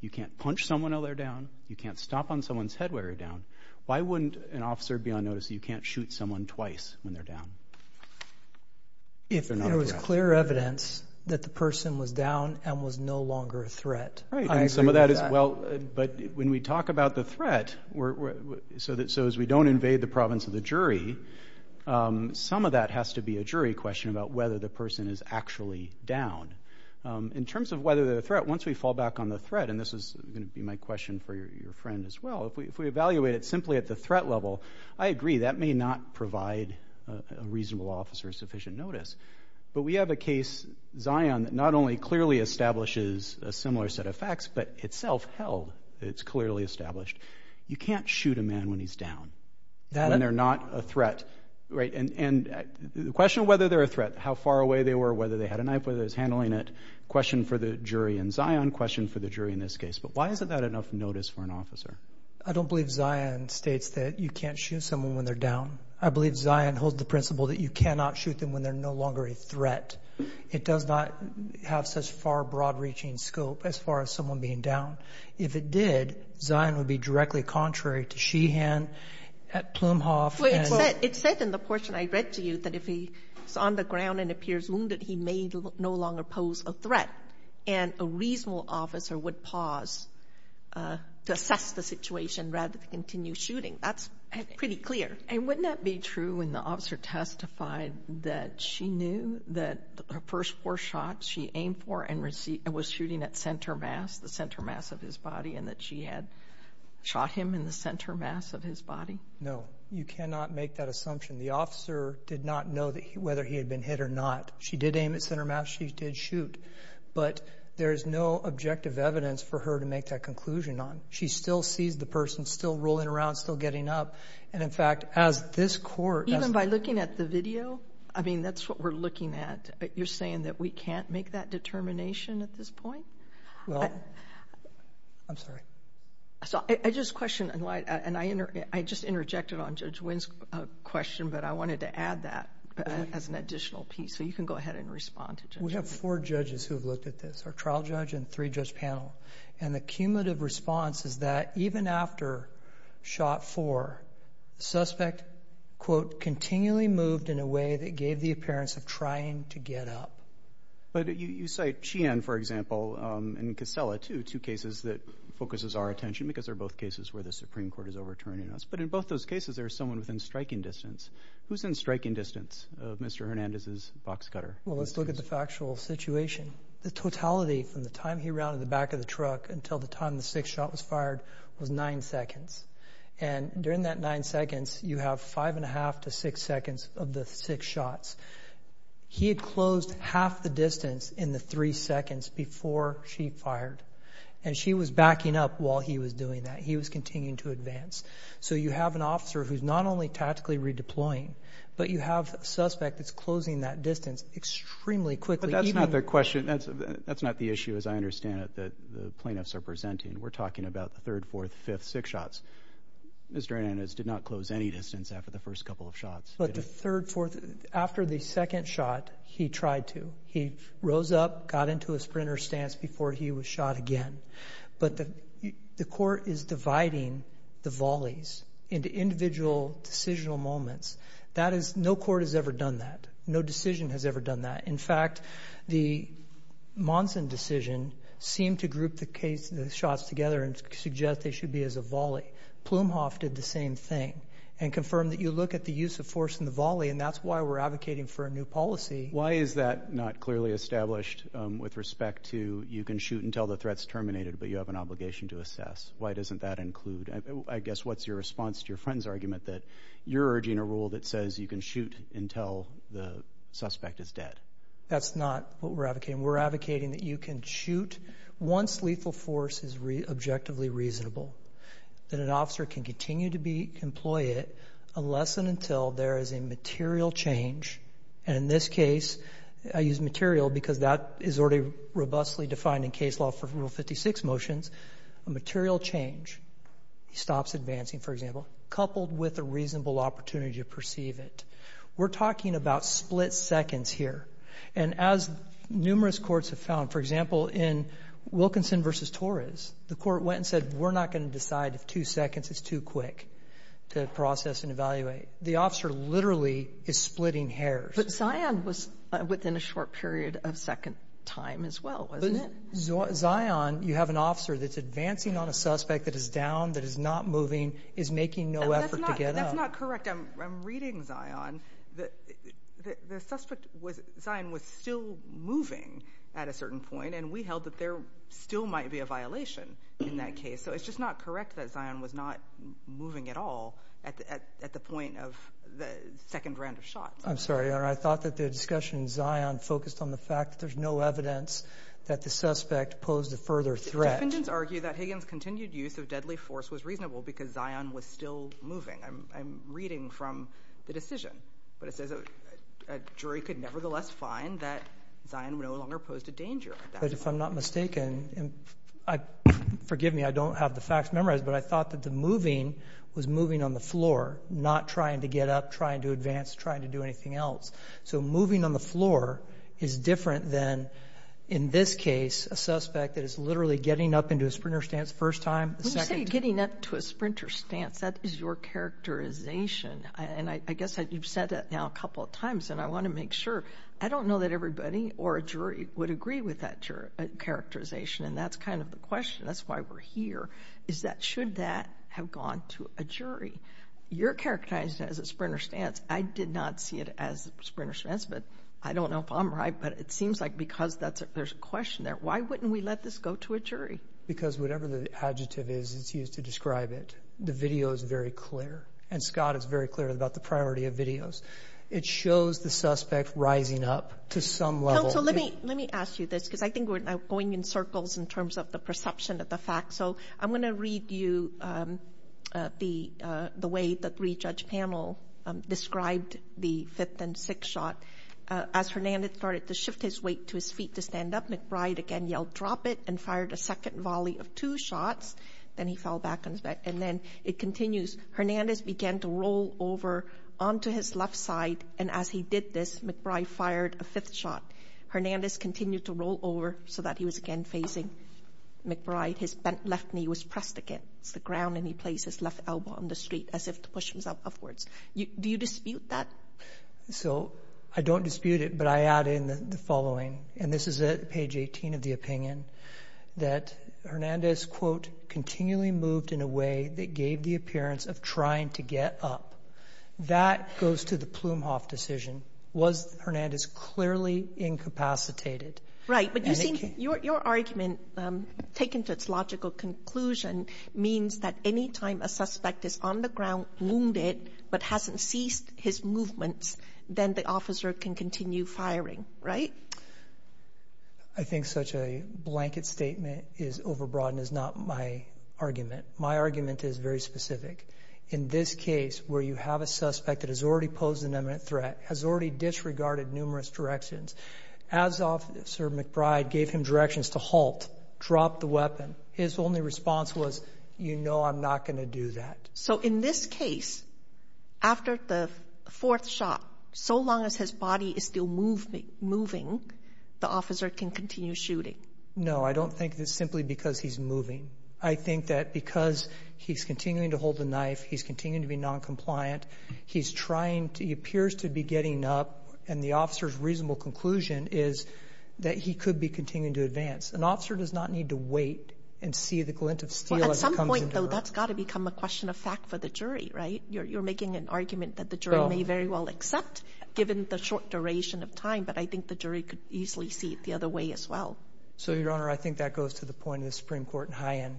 you can't punch someone while they're down, you can't stop on someone's head while they're down. Why wouldn't an officer be on notice that you can't shoot someone twice when they're down? If there was clear evidence that the person was down and was no longer a threat. Right. I agree with that. But when we talk about the threat, so as we don't invade the province of the jury, some of that has to be a jury question about whether the person is actually down. In terms of whether they're a threat, once we fall back on the threat, and this is going to be my question for your friend as well, if we evaluate it simply at the threat level, I agree, that may not provide a reasonable officer sufficient notice. But we have a case, Zion, that not only clearly establishes a similar set of facts, but itself held, it's clearly established, you can't shoot a man when he's down, when they're not a threat. And the question of whether they're a threat, how far away they were, whether they had a knife, whether they were handling it, question for the jury in Zion, question for the jury in this case. But why isn't that enough notice for an officer? I don't believe Zion states that you can't shoot someone when they're down. I believe Zion holds the principle that you cannot shoot them when they're no longer a threat. It does not have such far broad-reaching scope as far as someone being down. If it did, Zion would be directly contrary to Sheehan, Plumhoff. It said in the portion I read to you that if he's on the ground and appears wounded, he may no longer pose a threat. And a reasonable officer would pause to assess the situation rather than continue shooting. That's pretty clear. And wouldn't that be true when the officer testified that she knew that her first four shots she aimed for and was shooting at center mass, the center mass of his body, and that she had shot him in the center mass of his body? No. You cannot make that assumption. The officer did not know whether he had been hit or not. She did aim at center mass. She did shoot. But there is no objective evidence for her to make that conclusion on. She still sees the person still rolling around, still getting up. And, in fact, as this court— Even by looking at the video? I mean, that's what we're looking at. You're saying that we can't make that determination at this point? Well, I'm sorry. I just question, and I just interjected on Judge Wynn's question, but I wanted to add that as an additional piece so you can go ahead and respond to Judge Wynn. We have four judges who have looked at this, our trial judge and three-judge panel. And the cumulative response is that even after shot four, the suspect, quote, continually moved in a way that gave the appearance of trying to get up. But you cite Sheehan, for example, and Costella, too, two cases that focuses our attention because they're both cases where the Supreme Court is overturning us. But in both those cases, there's someone within striking distance. Who's in striking distance of Mr. Hernandez's box cutter? Well, let's look at the factual situation. The totality from the time he rounded the back of the truck until the time the sixth shot was fired was nine seconds. And during that nine seconds, you have five and a half to six seconds of the six shots. He had closed half the distance in the three seconds before she fired. And she was backing up while he was doing that. He was continuing to advance. So you have an officer who's not only tactically redeploying, but you have a suspect that's closing that distance extremely quickly. That's not the question. That's not the issue, as I understand it, that the plaintiffs are presenting. We're talking about the third, fourth, fifth, six shots. Mr. Hernandez did not close any distance after the first couple of shots. But the third, fourth, after the second shot, he tried to. He rose up, got into a sprinter's stance before he was shot again. But the court is dividing the volleys into individual decisional moments. No court has ever done that. No decision has ever done that. In fact, the Monson decision seemed to group the shots together and suggest they should be as a volley. Plumhoff did the same thing and confirmed that you look at the use of force in the volley, and that's why we're advocating for a new policy. Why is that not clearly established with respect to you can shoot until the threat's terminated, but you have an obligation to assess? Why doesn't that include? I guess what's your response to your friend's argument that you're urging a rule that says you can shoot until the suspect is dead? That's not what we're advocating. We're advocating that you can shoot once lethal force is objectively reasonable, that an officer can continue to employ it unless and until there is a material change. And in this case, I use material because that is already robustly defined in case law for Rule 56 motions, a material change. He stops advancing, for example, coupled with a reasonable opportunity to perceive it. We're talking about split seconds here. And as numerous courts have found, for example, in Wilkinson v. Torres, the court went and said, we're not going to decide if two seconds is too quick to process and evaluate. The officer literally is splitting hairs. But Zion was within a short period of second time as well, wasn't it? Zion, you have an officer that's advancing on a suspect that is down, that is not moving, is making no effort to get up. That's not correct. I'm reading Zion. The suspect, Zion, was still moving at a certain point, and we held that there still might be a violation in that case. So it's just not correct that Zion was not moving at all at the point of the second round of shots. I'm sorry, Your Honor. I thought that the discussion in Zion focused on the fact that there's no evidence that the suspect posed a further threat. Defendants argue that Higgins' continued use of deadly force was reasonable because Zion was still moving. I'm reading from the decision. But it says a jury could nevertheless find that Zion no longer posed a danger. But if I'm not mistaken, forgive me, I don't have the facts memorized, but I thought that the moving was moving on the floor, not trying to get up, trying to advance, trying to do anything else. So moving on the floor is different than, in this case, a suspect that is literally getting up into a sprinter stance first time, second time. When you say getting up to a sprinter stance, that is your characterization. And I guess you've said that now a couple of times, and I want to make sure. I don't know that everybody or a jury would agree with that characterization, and that's kind of the question. That's why we're here, is that should that have gone to a jury? You're characterizing it as a sprinter stance. I did not see it as a sprinter stance, but I don't know if I'm right. But it seems like because there's a question there, why wouldn't we let this go to a jury? Because whatever the adjective is that's used to describe it, the video is very clear, and Scott is very clear about the priority of videos. It shows the suspect rising up to some level. So let me ask you this because I think we're now going in circles in terms of the perception of the facts. So I'm going to read you the way the three-judge panel described the fifth and sixth shot. As Hernandez started to shift his weight to his feet to stand up, McBride again yelled, drop it, and fired a second volley of two shots. Then he fell back on his back. And then it continues. Hernandez began to roll over onto his left side, and as he did this, McBride fired a fifth shot. Hernandez continued to roll over so that he was again facing McBride. His left knee was pressed against the ground, and he placed his left elbow on the street as if to push himself upwards. Do you dispute that? So I don't dispute it, but I add in the following, and this is at page 18 of the opinion, that Hernandez, quote, continually moved in a way that gave the appearance of trying to get up. That goes to the Plumhoff decision. Was Hernandez clearly incapacitated? But you see, your argument, taken to its logical conclusion, means that any time a suspect is on the ground wounded but hasn't ceased his movements, then the officer can continue firing, right? I think such a blanket statement is overbroad and is not my argument. My argument is very specific. In this case, where you have a suspect that has already posed an imminent threat, has already disregarded numerous directions, as Officer McBride gave him directions to halt, drop the weapon, his only response was, you know I'm not going to do that. So in this case, after the fourth shot, so long as his body is still moving, the officer can continue shooting? No, I don't think it's simply because he's moving. I think that because he's continuing to hold the knife, he's continuing to be noncompliant, he's trying to, he appears to be getting up, and the officer's reasonable conclusion is that he could be continuing to advance. An officer does not need to wait and see the glint of steel as it comes into her. Well, at some point, though, that's got to become a question of fact for the jury, right? You're making an argument that the jury may very well accept, given the short duration of time, but I think the jury could easily see it the other way as well. So, Your Honor, I think that goes to the point of the Supreme Court in High End.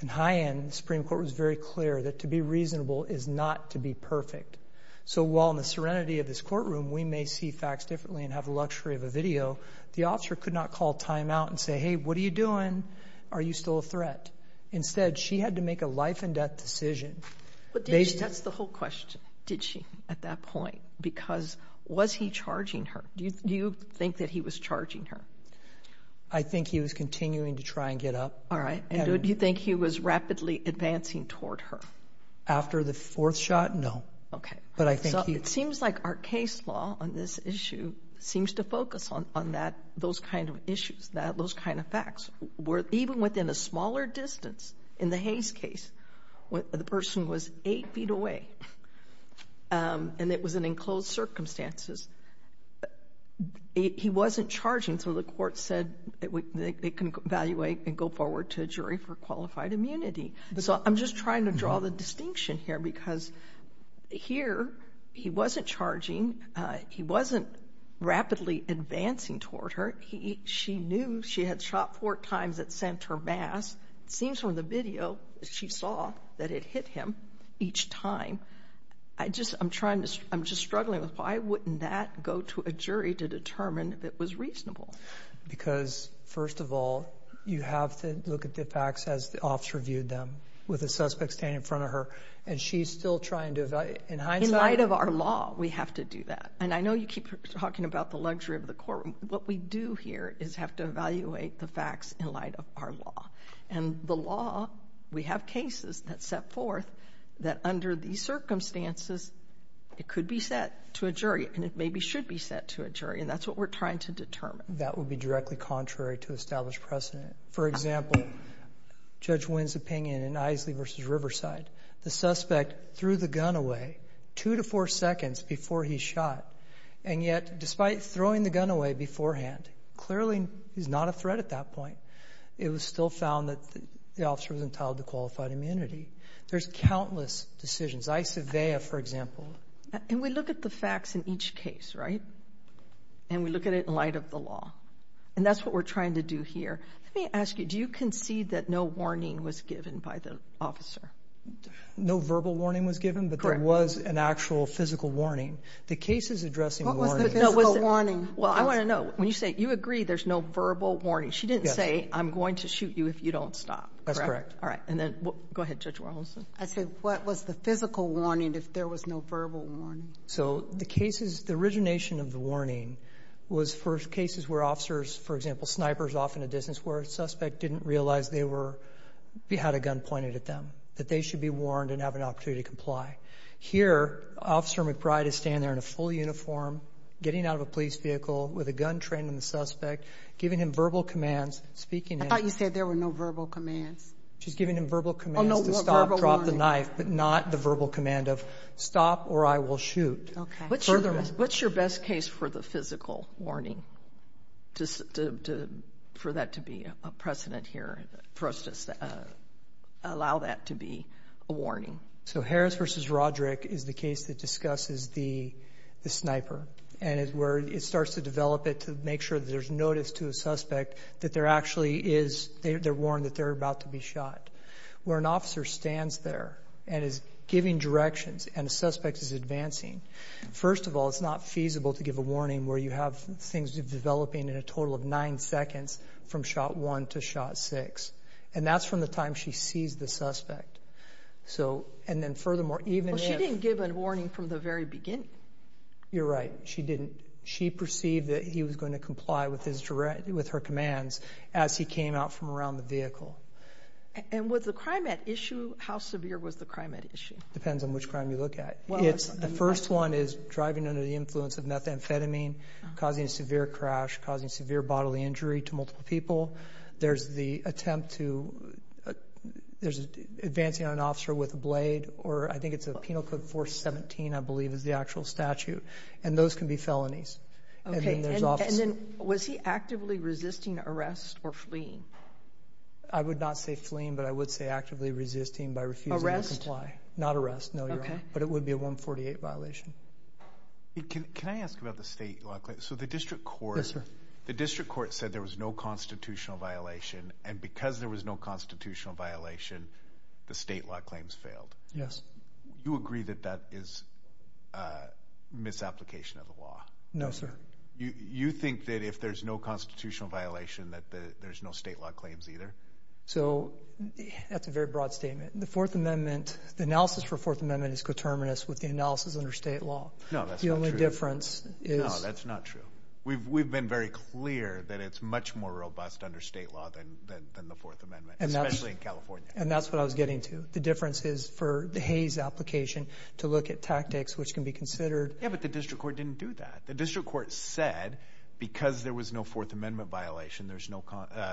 In High End, the Supreme Court was very clear that to be reasonable is not to be perfect. So while in the serenity of this courtroom we may see facts differently and have the luxury of a video, the officer could not call timeout and say, hey, what are you doing? Are you still a threat? Instead, she had to make a life-and-death decision. But did she? That's the whole question. Did she at that point? Because was he charging her? Do you think that he was charging her? I think he was continuing to try and get up. And do you think he was rapidly advancing toward her? After the fourth shot, no. So it seems like our case law on this issue seems to focus on those kind of issues, those kind of facts. Even within a smaller distance, in the Hayes case, the person was 8 feet away, and it was in enclosed circumstances. He wasn't charging, so the court said they can evaluate and go forward to a jury for qualified immunity. So I'm just trying to draw the distinction here because here he wasn't charging. He wasn't rapidly advancing toward her. She knew she had shot four times at center mass. It seems from the video she saw that it hit him each time. I'm just struggling with why wouldn't that go to a jury to determine if it was reasonable? Because, first of all, you have to look at the facts as the officer viewed them with a suspect standing in front of her. And she's still trying to evaluate. In hindsight? In light of our law, we have to do that. And I know you keep talking about the luxury of the courtroom. What we do here is have to evaluate the facts in light of our law. And the law, we have cases that set forth that under these circumstances, it could be set to a jury, and it maybe should be set to a jury, and that's what we're trying to determine. That would be directly contrary to established precedent. For example, Judge Wynn's opinion in Isley v. Riverside, the suspect threw the gun away 2 to 4 seconds before he shot, and yet despite throwing the gun away beforehand, clearly he's not a threat at that point, it was still found that the officer was entitled to qualified immunity. There's countless decisions. Isovea, for example. And we look at the facts in each case, right? And we look at it in light of the law. And that's what we're trying to do here. Let me ask you, do you concede that no warning was given by the officer? No verbal warning was given, but there was an actual physical warning. The case is addressing warnings. What was the physical warning? Well, I want to know. When you say you agree there's no verbal warning, she didn't say, I'm going to shoot you if you don't stop, correct? All right. And then go ahead, Judge Warholson. I said, what was the physical warning if there was no verbal warning? So the cases, the origination of the warning was for cases where officers, for example, snipers off in a distance where a suspect didn't realize they had a gun pointed at them, that they should be warned and have an opportunity to comply. Here, Officer McBride is standing there in a full uniform, getting out of a police vehicle with a gun trained on the suspect, giving him verbal commands, speaking to him. I thought you said there were no verbal commands. She's giving him verbal commands to stop, drop the knife, but not the verbal command of stop or I will shoot. Okay. What's your best case for the physical warning, for that to be a precedent here, for us to allow that to be a warning? So Harris v. Roderick is the case that discusses the sniper and is where it starts to develop it to make sure that there's notice to a suspect that there actually is, they're warned that they're about to be shot. Where an officer stands there and is giving directions and a suspect is advancing, first of all, it's not feasible to give a warning where you have things developing in a total of nine seconds from shot one to shot six. And that's from the time she sees the suspect. And then furthermore, even if— Well, she didn't give a warning from the very beginning. You're right. She didn't. She perceived that he was going to comply with her commands as he came out from around the vehicle. And was the crime at issue? How severe was the crime at issue? Depends on which crime you look at. The first one is driving under the influence of methamphetamine, causing a severe crash, causing severe bodily injury to multiple people. There's the attempt to advancing on an officer with a blade, or I think it's a Penal Code 417, I believe, is the actual statute. And those can be felonies. Okay. And then was he actively resisting arrest or fleeing? I would not say fleeing, but I would say actively resisting by refusing to comply. Not arrest. No, you're wrong. Okay. But it would be a 148 violation. Can I ask about the state law? So the district court— The district court said there was no constitutional violation, and because there was no constitutional violation, the state law claims failed. Yes. Do you agree that that is a misapplication of the law? No, sir. You think that if there's no constitutional violation, that there's no state law claims either? So that's a very broad statement. The Fourth Amendment—the analysis for the Fourth Amendment is coterminous with the analysis under state law. No, that's not true. The only difference is— No, that's not true. We've been very clear that it's much more robust under state law than the Fourth Amendment, especially in California. And that's what I was getting to. The difference is for the Hays application to look at tactics which can be considered— Yeah, but the district court didn't do that. The district court said because there was no Fourth Amendment violation, there's no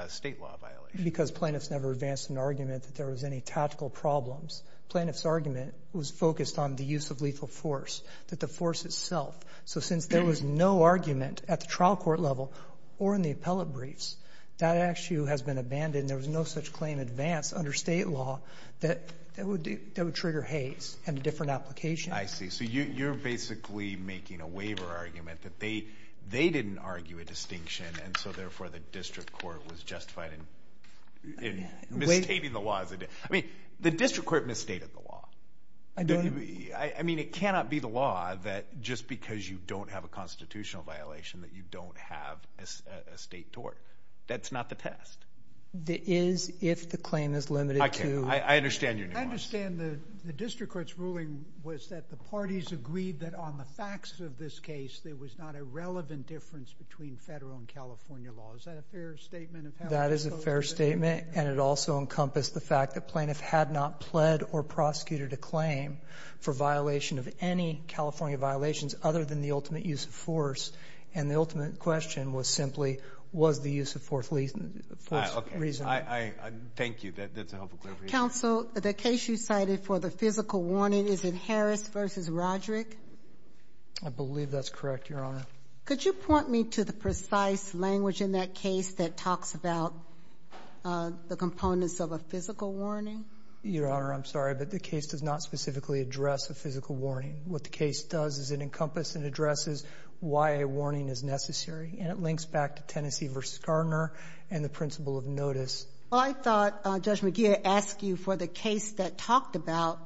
state law violation. Because plaintiffs never advanced an argument that there was any tactical problems. Plaintiff's argument was focused on the use of lethal force, that the force itself. So since there was no argument at the trial court level or in the appellate briefs, that actually has been abandoned. There was no such claim advanced under state law that would trigger Hays and a different application. I see. So you're basically making a waiver argument that they didn't argue a distinction, and so therefore the district court was justified in misstating the law. I mean, the district court misstated the law. I don't— I mean, it cannot be the law that just because you don't have a constitutional violation that you don't have a state tort. That's not the test. It is if the claim is limited to— I understand your nuance. I understand the district court's ruling was that the parties agreed that on the facts of this case there was not a relevant difference between federal and California law. Is that a fair statement of how— That is a fair statement, and it also encompassed the fact that plaintiff had not pled or prosecuted a claim for violation of any California violations other than the ultimate use of force, and the ultimate question was simply was the use of force reasonable. Thank you. That's a helpful clarification. Counsel, the case you cited for the physical warning, is it Harris v. Roderick? I believe that's correct, Your Honor. Could you point me to the precise language in that case that talks about the components of a physical warning? Your Honor, I'm sorry, but the case does not specifically address a physical warning. What the case does is it encompasses and addresses why a warning is necessary, and it links back to Tennessee v. Garner and the principle of notice. I thought Judge McGeer asked you for the case that talked about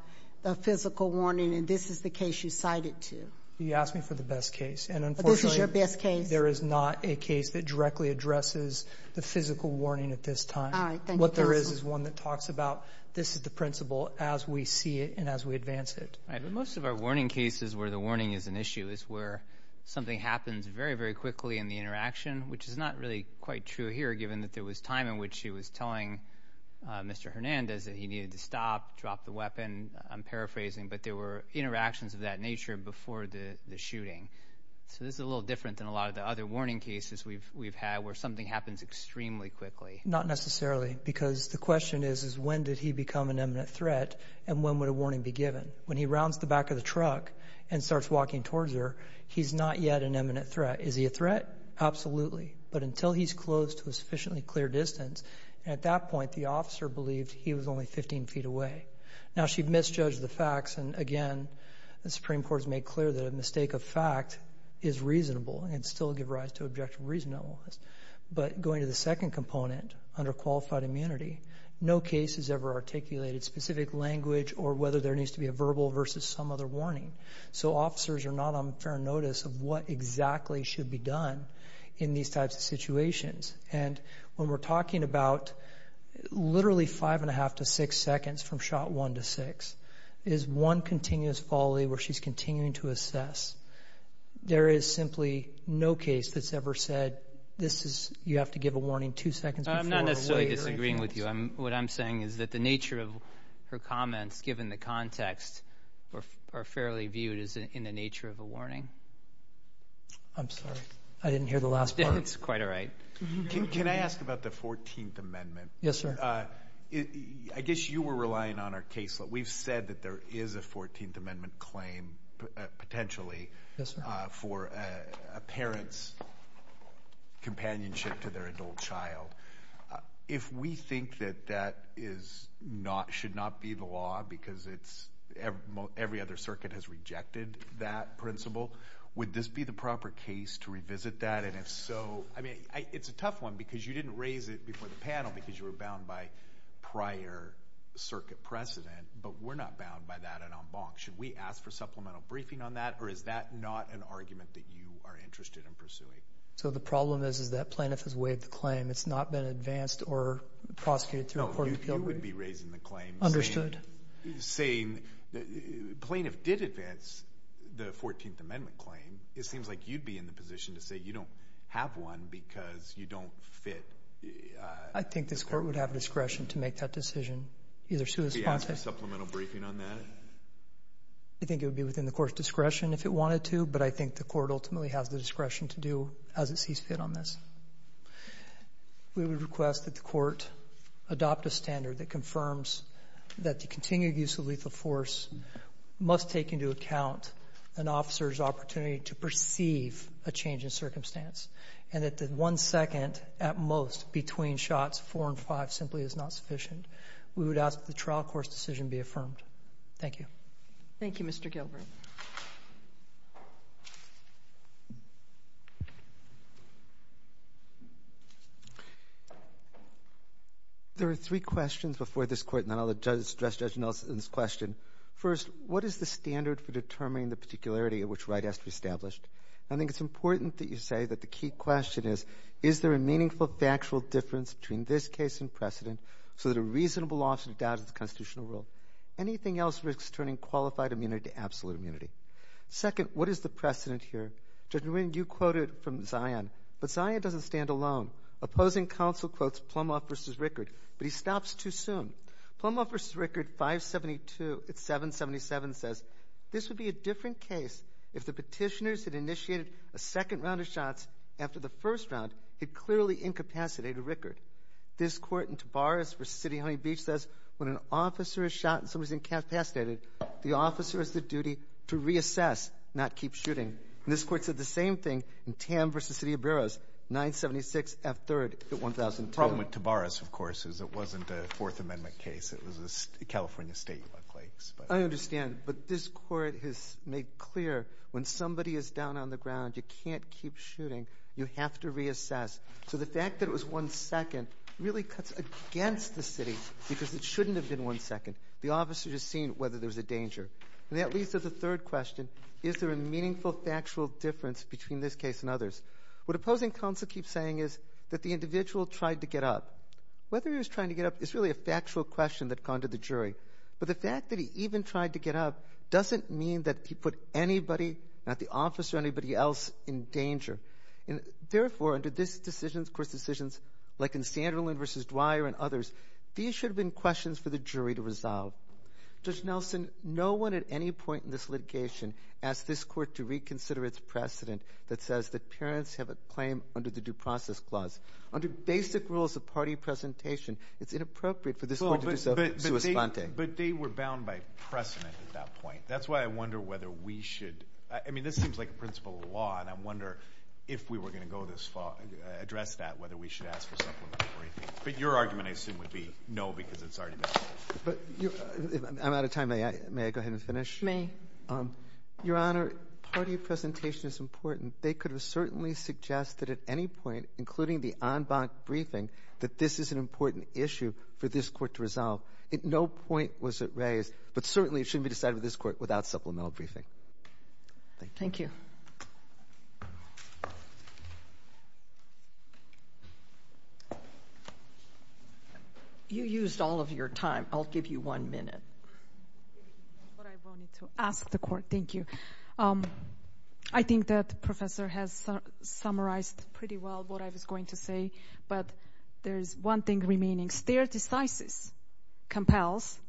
the physical warning, and this is the case you cited to. You asked me for the best case, and unfortunately— But this is your best case. There is not a case that directly addresses the physical warning at this time. All right, thank you. What there is is one that talks about this is the principle as we see it and as we advance it. All right, but most of our warning cases where the warning is an issue is where something happens very, very quickly in the interaction, which is not really quite true here, given that there was time in which she was telling Mr. Hernandez that he needed to stop, drop the weapon. I'm paraphrasing, but there were interactions of that nature before the shooting. So this is a little different than a lot of the other warning cases we've had where something happens extremely quickly. Not necessarily, because the question is when did he become an imminent threat and when would a warning be given? When he rounds the back of the truck and starts walking towards her, he's not yet an imminent threat. Is he a threat? Absolutely. But until he's close to a sufficiently clear distance, at that point the officer believed he was only 15 feet away. Now, she misjudged the facts, and again, the Supreme Court has made clear that a mistake of fact is reasonable and can still give rise to objective reasonableness. But going to the second component, under qualified immunity, no case has ever articulated specific language or whether there needs to be a verbal versus some other warning. So officers are not on fair notice of what exactly should be done in these types of situations. And when we're talking about literally five and a half to six seconds from shot one to six, is one continuous folly where she's continuing to assess. There is simply no case that's ever said you have to give a warning two seconds before. I'm not necessarily disagreeing with you. What I'm saying is that the nature of her comments, given the context, are fairly viewed as in the nature of a warning. I'm sorry. I didn't hear the last part. It's quite all right. Can I ask about the 14th Amendment? Yes, sir. I guess you were relying on our case. We've said that there is a 14th Amendment claim potentially for a parent's companionship to their adult child. If we think that that should not be the law because every other circuit has rejected that principle, would this be the proper case to revisit that? And if so, I mean, it's a tough one because you didn't raise it before the panel because you were bound by prior circuit precedent. But we're not bound by that en en banc. Should we ask for supplemental briefing on that, or is that not an argument that you are interested in pursuing? So the problem is that plaintiff has waived the claim. It's not been advanced or prosecuted through a court of appeal. No, you would be raising the claim. Plaintiff did advance the 14th Amendment claim. It seems like you'd be in the position to say you don't have one because you don't fit. I think this court would have discretion to make that decision. Should we ask for supplemental briefing on that? I think it would be within the court's discretion if it wanted to. But I think the court ultimately has the discretion to do as it sees fit on this. We would request that the court adopt a standard that confirms that the continued use of lethal force must take into account an officer's opportunity to perceive a change in circumstance and that the one second at most between shots, four and five, simply is not sufficient. We would ask that the trial court's decision be affirmed. Thank you. Thank you, Mr. Gilbert. There are three questions before this court, and then I'll address Judge Nelson's question. First, what is the standard for determining the particularity of which right has to be established? I think it's important that you say that the key question is, is there a meaningful factual difference between this case and precedent so that a reasonable law should be adopted in the constitutional world? Anything else risks turning qualified immunity to absolute immunity. Second, what is the precedent here? Judge Nguyen, you quoted from Zion. But Zion doesn't stand alone. Opposing counsel quotes Plumhoff v. Rickard, but he stops too soon. Plumhoff v. Rickard, 572, it's 777, says, this would be a different case if the petitioners had initiated a second round of shots after the first round. It clearly incapacitated Rickard. This court in Tavares v. City of Honey Beach says, when an officer is shot and somebody is incapacitated, the officer has the duty to reassess, not keep shooting. This court said the same thing in Tam v. City of Burroughs, 976 F. 3rd, 1002. The problem with Tavares, of course, is it wasn't a Fourth Amendment case. It was a California state case. I understand. But this court has made clear when somebody is down on the ground, you can't keep shooting. You have to reassess. So the fact that it was one second really cuts against the city because it shouldn't have been one second. The officer has seen whether there's a danger. And that leads to the third question, is there a meaningful, factual difference between this case and others? What opposing counsel keeps saying is that the individual tried to get up. Whether he was trying to get up is really a factual question that's gone to the jury. But the fact that he even tried to get up doesn't mean that he put anybody, not the officer, anybody else in danger. And therefore, under this decision, of course, decisions like in Sanderlin v. Dwyer and others, these should have been questions for the jury to resolve. Judge Nelson, no one at any point in this litigation asked this court to reconsider its precedent that says that parents have a claim under the Due Process Clause. Under basic rules of party presentation, it's inappropriate for this court to do so. But they were bound by precedent at that point. That's why I wonder whether we should ‑‑ I mean, this seems like a principle of law, and I wonder if we were going to address that, whether we should ask for supplementary briefings. But your argument, I assume, would be no because it's already been ‑‑ I'm out of time. May I go ahead and finish? May. Your Honor, party presentation is important. They could have certainly suggested at any point, including the en banc briefing, that this is an important issue for this court to resolve. At no point was it raised. But certainly it shouldn't be decided with this court without supplemental briefing. Thank you. Thank you. You used all of your time. I'll give you one minute. But I wanted to ask the court. Thank you. I think that Professor has summarized pretty well what I was going to say. But there is one thing remaining. Stere decisis compels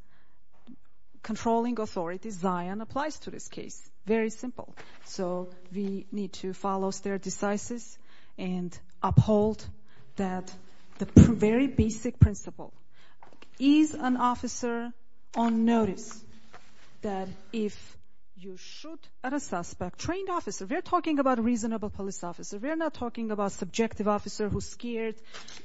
controlling authority. Zion applies to this case. Very simple. So we need to follow stere decisis and uphold that very basic principle. Is an officer on notice that if you shoot at a suspect, trained officer, we're talking about reasonable police officer. We're not talking about subjective officer who's scared,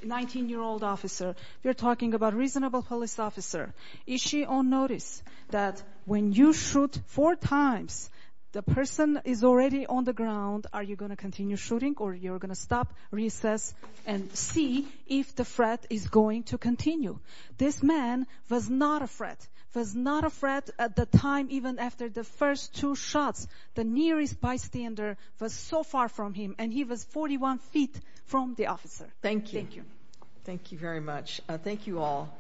19‑year‑old officer. We're talking about reasonable police officer. Is she on notice that when you shoot four times, the person is already on the ground, are you going to continue shooting or you're going to stop, recess, and see if the threat is going to continue? This man was not a threat. Was not a threat at the time even after the first two shots. The nearest bystander was so far from him. And he was 41 feet from the officer. Thank you. Thank you very much. Thank you all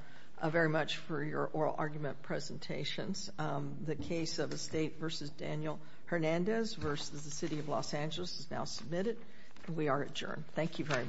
very much for your oral argument presentations. The case of Estate v. Daniel Hernandez v. the City of Los Angeles is now submitted. And we are adjourned. Thank you very much.